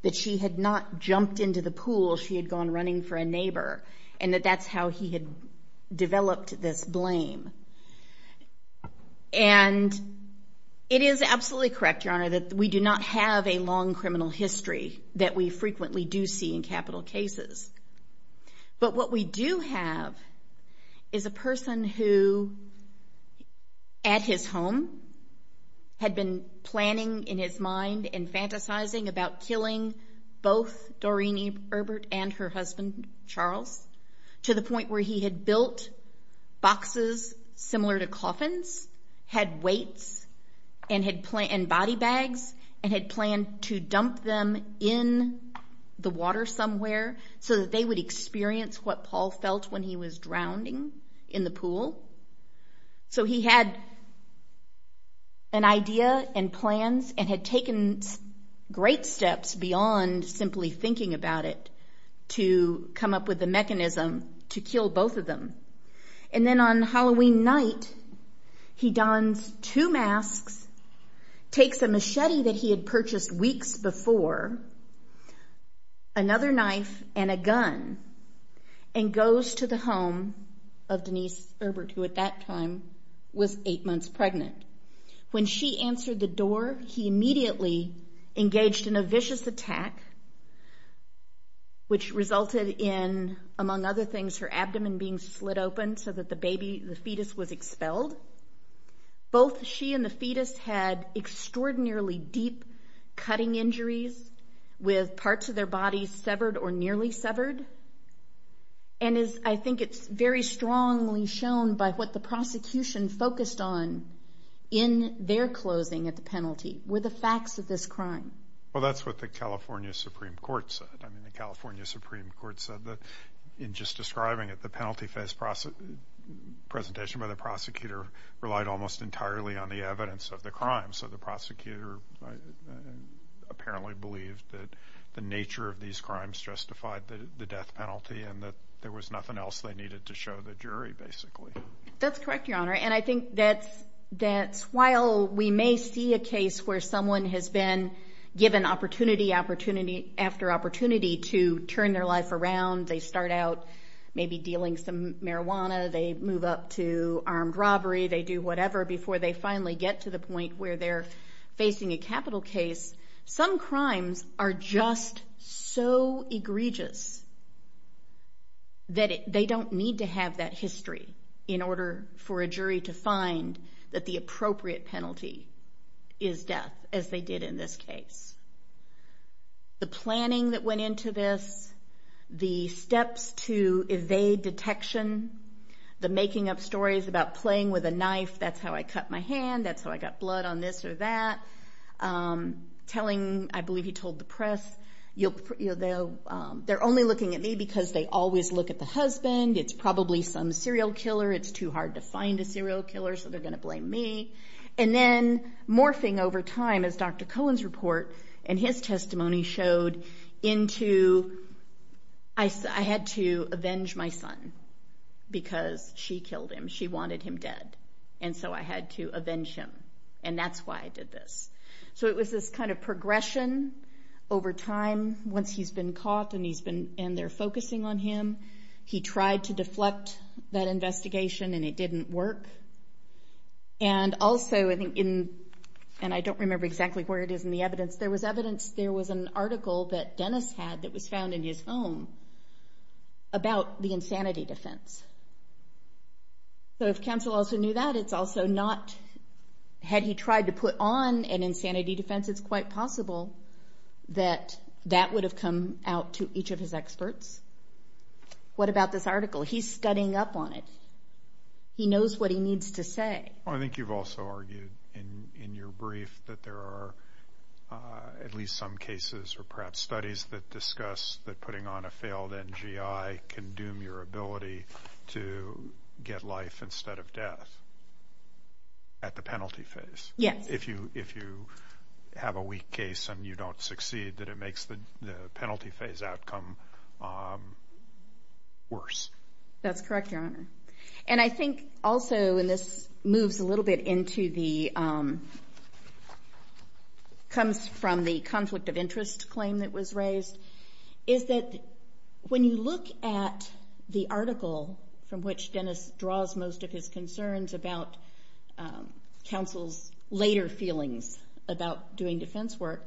that she had not jumped into the pool she had gone running for a neighbor, and that that's how he had developed this blame. And it is absolutely correct, Your Honor, that we do not have a long criminal history that we frequently do see in capital cases. But what we do have is a person who, at his home, had been planning in his mind and fantasizing about killing both Doreen Ebert and her husband, Charles, to the point where he had built boxes similar to coffins, had weights and body bags, and had planned to dump them in the water somewhere so that they would experience what Paul felt when he was drowning in the pool. So he had an idea and plans and had taken great steps beyond simply thinking about it to come up with the mechanism to kill both of them. And then on Halloween night, he dons two masks, takes a machete that he had purchased weeks before, another knife and a gun, and goes to the home of Denise Ebert, who at that time was eight months pregnant. When she answered the door, he immediately engaged in a vicious attack, which resulted in, among other things, her abdomen being slit open so that the fetus was expelled. Both she and the fetus had extraordinarily deep cutting injuries with parts of their bodies severed or nearly severed. And I think it's very strongly shown by what the prosecution focused on in their closing at the penalty were the facts of this crime. Well, that's what the California Supreme Court said. I mean, the California Supreme Court said that in just describing it, the penalty phase presentation by the prosecutor relied almost entirely on the evidence of the crime. So the prosecutor apparently believed that the nature of these crimes justified the death penalty and that there was nothing else they needed to show the jury, basically. That's correct, Your Honor. And I think that while we may see a case where someone has been given opportunity after opportunity to turn their life around, they start out maybe dealing some marijuana, they move up to armed robbery, they do whatever, before they finally get to the point where they're facing a capital case, some crimes are just so egregious that they don't need to have that history in order for a jury to find that the appropriate penalty is death, as they did in this case. The planning that went into this, the steps to evade detection, the making up stories about playing with a knife, that's how I cut my hand, that's how I got blood on this or that, telling, I believe you told the press, they're only looking at me because they always look at the husband, it's probably some serial killer, it's too hard to find a serial killer, so they're going to blame me. And then morphing over time, as Dr. Cohen's report and his testimony showed, into I had to avenge my son because she killed him, she wanted him dead, and so I had to avenge him, and that's why I did this. So it was this kind of progression over time, once he's been caught and they're focusing on him, he tried to deflect that investigation and it didn't work. And also, and I don't remember exactly where it is in the evidence, there was evidence, there was an article that Dennis had that was found in his home about the insanity defense. So if counsel also knew that, it's also not, had he tried to put on an insanity defense, it's quite possible that that would have come out to each of his experts. What about this article? He's studying up on it. He knows what he needs to say. I think you've also argued in your brief that there are at least some cases or perhaps studies that discuss that putting on a failed NGI can doom your ability to get life instead of death at the penalty phase. Yes. If you have a weak case and you don't succeed, that it makes the penalty phase outcome worse. That's correct, Your Honor. And I think also, and this moves a little bit into the, comes from the conflict of interest claim that was raised, is that when you look at the article from which Dennis draws most of his concerns about counsel's later feelings about doing defense work,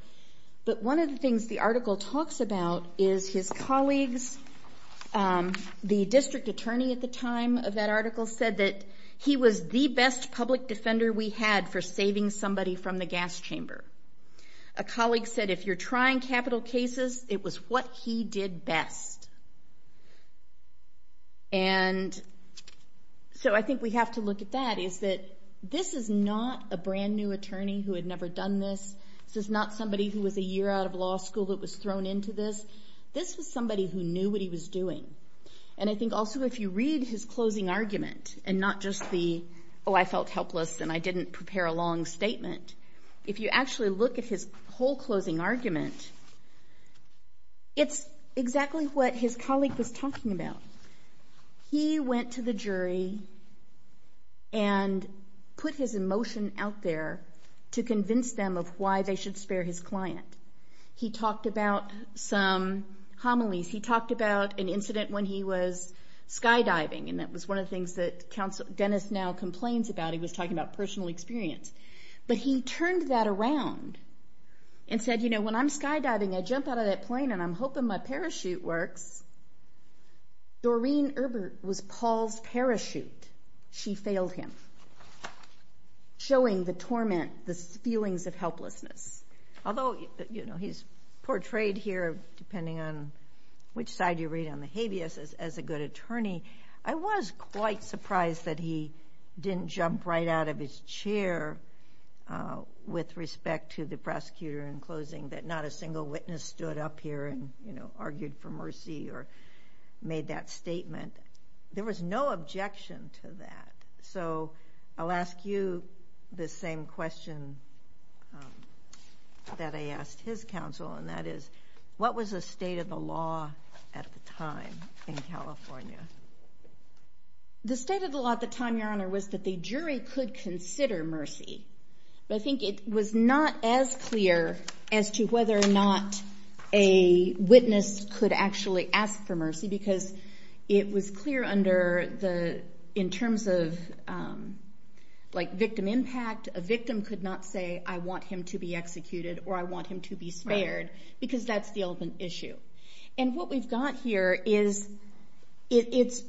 but one of the things the article talks about is his colleagues, the district attorney at the time of that article, said that he was the best public defender we had for saving somebody from the gas chamber. A colleague said if you're trying capital cases, it was what he did best. And so I think we have to look at that, is that this is not a brand-new attorney who had never done this. This is not somebody who was a year out of law school that was thrown into this. This was somebody who knew what he was doing. And I think also if you read his closing argument and not just the, oh, I felt helpless and I didn't prepare a long statement, if you actually look at his whole closing argument, it's exactly what his colleague was talking about. He went to the jury and put his emotion out there to convince them of why they should spare his client. He talked about some homilies. He talked about an incident when he was skydiving, and that was one of the things that Dennis now complains about. He was talking about personal experience. But he turned that around and said, you know, when I'm skydiving, I jump out of that plane, and I'm hoping my parachute works. Doreen Erbert was Paul's parachute. She failed him, showing the torment, the feelings of helplessness. Although, you know, he's portrayed here, depending on which side you read on the habeas, as a good attorney. I was quite surprised that he didn't jump right out of his chair with respect to the prosecutor in closing, that not a single witness stood up here and, you know, argued for mercy or made that statement. There was no objection to that. So I'll ask you the same question that I asked his counsel, and that is, what was the state of the law at the time in California? The state of the law at the time, Your Honor, was that the jury could consider mercy. But I think it was not as clear as to whether or not a witness could actually ask for mercy because it was clear in terms of, like, victim impact. A victim could not say, I want him to be executed or I want him to be spared because that's the open issue. And what we've got here is it's,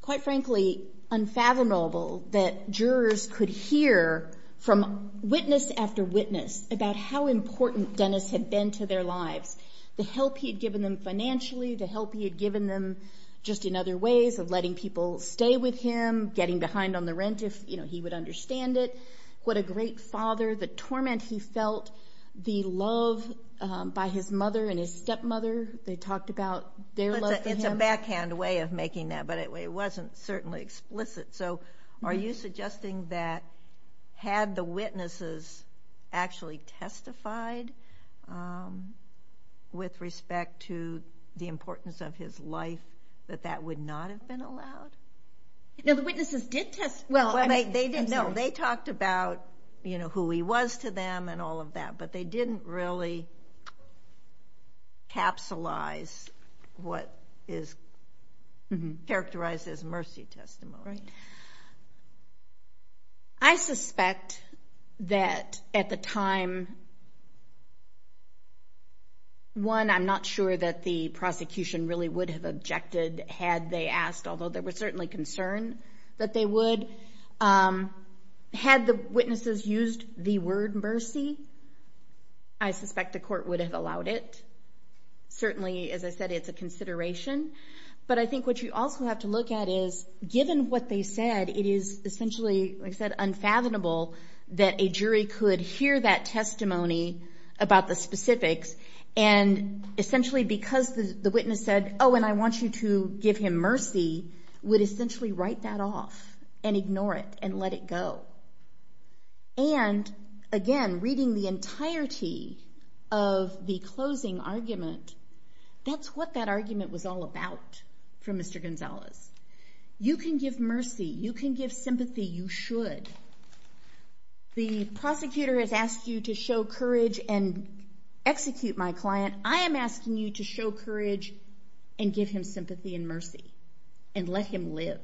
quite frankly, unfathomable that jurors could hear from witness after witness about how important Dennis had been to their lives. The help he had given them financially, the help he had given them just in other ways of letting people stay with him, getting behind on the rent if, you know, he would understand it, what a great father, the torment he felt, the love by his mother and his stepmother. They talked about their love for him. It's a backhand way of making that, but it wasn't certainly explicit. So are you suggesting that had the witnesses actually testified with respect to the importance of his life, that that would not have been allowed? No, the witnesses did testify. No, they talked about, you know, who he was to them and all of that, but they didn't really capsulize what is characterized as mercy testimony. I suspect that at the time, one, I'm not sure that the prosecution really would have objected had they asked, although there was certainly concern that they would. Had the witnesses used the word mercy, I suspect the court would have allowed it. Certainly, as I said, it's a consideration, but I think what you also have to look at is given what they said, it is essentially, like I said, unfathomable that a jury could hear that testimony about the specifics, and essentially because the witness said, oh, and I want you to give him mercy, would essentially write that off and ignore it and let it go. And again, reading the entirety of the closing argument, that's what that argument was all about for Mr. Gonzalez. You can give mercy. You can give sympathy. You should. The prosecutor has asked you to show courage and execute my client. I am asking you to show courage and give him sympathy and mercy and let him live.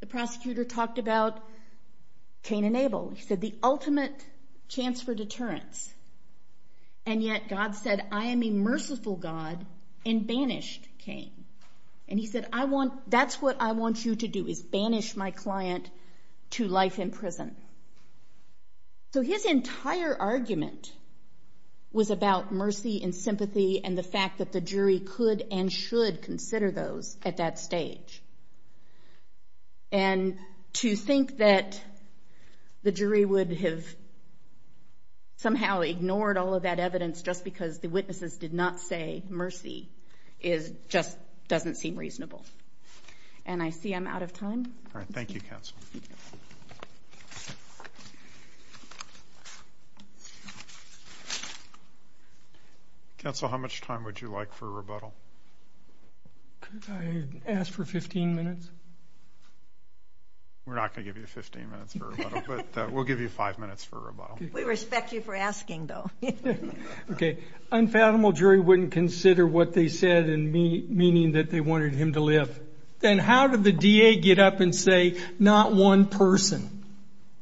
The prosecutor talked about Cain and Abel. He said the ultimate chance for deterrence, and yet God said, I am a merciful God and banished Cain. And he said, that's what I want you to do is banish my client to life in prison. So his entire argument was about mercy and sympathy and the fact that the jury could and should consider those at that stage. And to think that the jury would have somehow ignored all of that evidence just because the witnesses did not say mercy just doesn't seem reasonable. And I see I'm out of time. All right. Thank you, counsel. Counsel, how much time would you like for a rebuttal? Could I ask for 15 minutes? We're not going to give you 15 minutes for a rebuttal, but we'll give you five minutes for a rebuttal. We respect you for asking, though. Okay. Unfathomable jury wouldn't consider what they said, meaning that they wanted him to live. Then how did the DA get up and say, not one person?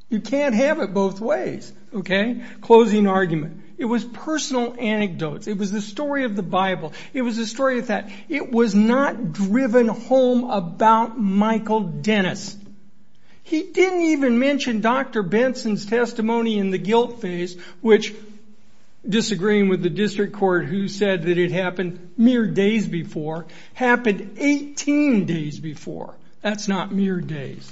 You can't have it both ways. Okay. Closing argument. It was personal anecdotes. It was the story of the Bible. It was the story of that. It was not driven home about Michael Dennis. He didn't even mention Dr. Benson's testimony in the guilt phase, which, disagreeing with the district court who said that it happened mere days before, happened 18 days before. That's not mere days.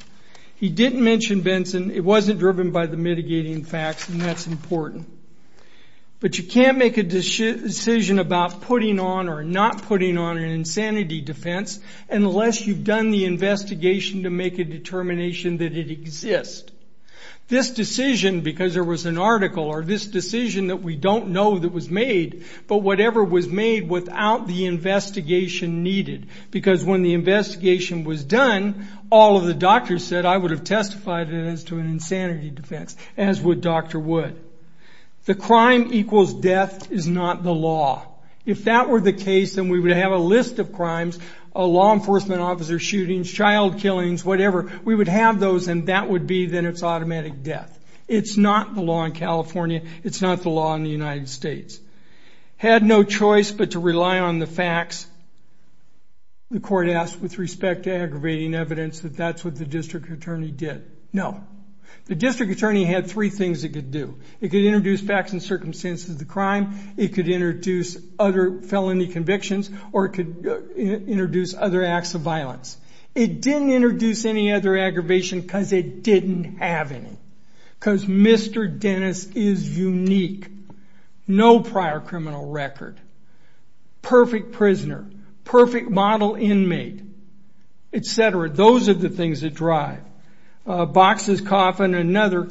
He didn't mention Benson. It wasn't driven by the mitigating facts, and that's important. But you can't make a decision about putting on or not putting on an insanity defense unless you've done the investigation to make a determination that it exists. This decision, because there was an article, or this decision that we don't know that was made, but whatever was made without the investigation needed, because when the investigation was done, all of the doctors said, I would have testified as to an insanity defense, as would Dr. Wood. The crime equals death is not the law. If that were the case, then we would have a list of crimes, law enforcement officer shootings, child killings, whatever. We would have those, and that would be then it's automatic death. It's not the law in California. It's not the law in the United States. Had no choice but to rely on the facts. The court asked with respect to aggravating evidence that that's what the district attorney did. No. The district attorney had three things it could do. It could introduce facts and circumstances of the crime. It could introduce other felony convictions, or it could introduce other acts of violence. It didn't introduce any other aggravation because it didn't have any, because Mr. Dennis is unique. No prior criminal record. Perfect prisoner. Perfect model inmate, et cetera. Those are the things that drive. Boxes, coffin, another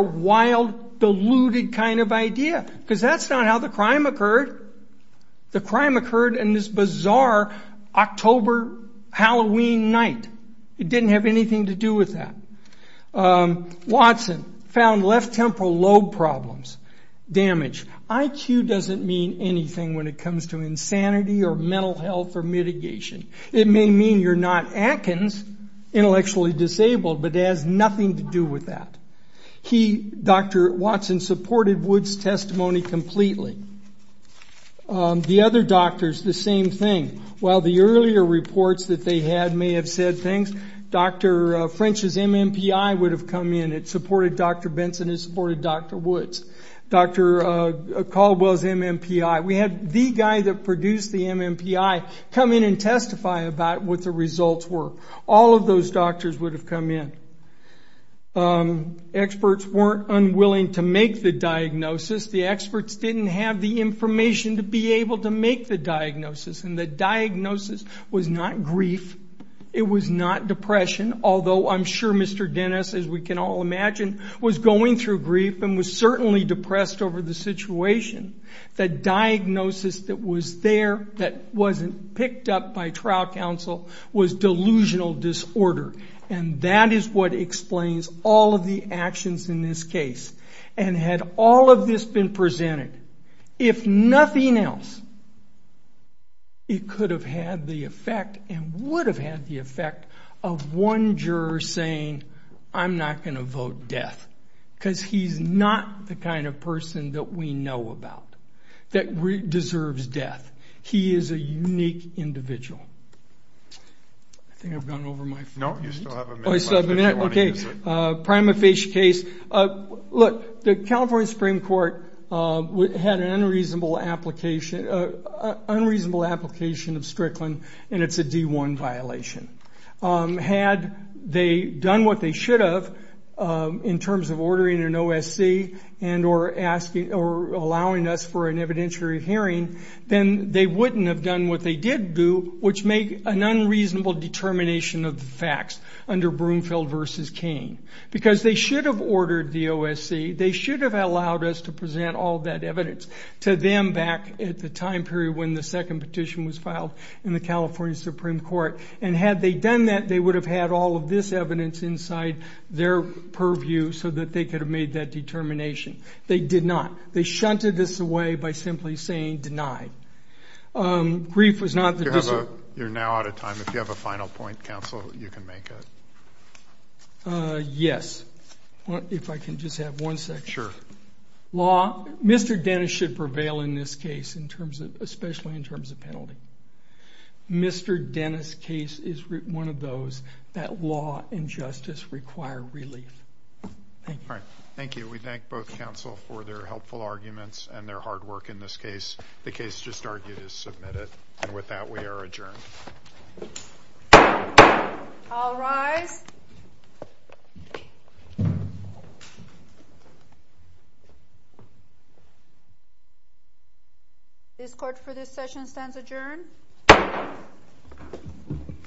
wild, deluded kind of idea, because that's not how the crime occurred. The crime occurred in this bizarre October Halloween night. It didn't have anything to do with that. Watson found left temporal lobe problems. Damage. IQ doesn't mean anything when it comes to insanity or mental health or mitigation. It may mean you're not Atkins, intellectually disabled, but it has nothing to do with that. Dr. Watson supported Wood's testimony completely. The other doctors, the same thing. While the earlier reports that they had may have said things, Dr. French's MMPI would have come in. It supported Dr. Benson. It supported Dr. Woods. Dr. Caldwell's MMPI. We had the guy that produced the MMPI come in and testify about what the results were. All of those doctors would have come in. Experts weren't unwilling to make the diagnosis. The experts didn't have the information to be able to make the diagnosis, and the diagnosis was not grief. It was not depression, although I'm sure Mr. Dennis, as we can all imagine, was going through grief and was certainly depressed over the situation. The diagnosis that was there that wasn't picked up by trial counsel was delusional disorder, and that is what explains all of the actions in this case. And had all of this been presented, if nothing else, it could have had the effect and would have had the effect of one juror saying, I'm not going to vote death because he's not the kind of person that we know about, that deserves death. He is a unique individual. I think I've gone over my phone. No, you still have a minute. Okay. Prima facie case. Look, the California Supreme Court had an unreasonable application of Strickland, and it's a D-1 violation. Had they done what they should have in terms of ordering an OSC and or allowing us for an evidentiary hearing, then they wouldn't have done what they did do, which made an unreasonable determination of the facts under Broomfield v. Because they should have ordered the OSC. They should have allowed us to present all that evidence to them back at the time period when the second petition was filed in the California Supreme Court. And had they done that, they would have had all of this evidence inside their purview so that they could have made that determination. They did not. They shunted this away by simply saying denied. Grief was not the decision. You're now out of time. If you have a final point, Counsel, you can make it. Yes. If I can just have one second. Sure. Law. Mr. Dennis should prevail in this case, especially in terms of penalty. Mr. Dennis' case is one of those that law and justice require relief. Thank you. All right. Thank you. We thank both counsel for their helpful arguments and their hard work in this case. The case just argued is submitted. And with that, we are adjourned. All rise. This court for this session stands adjourned.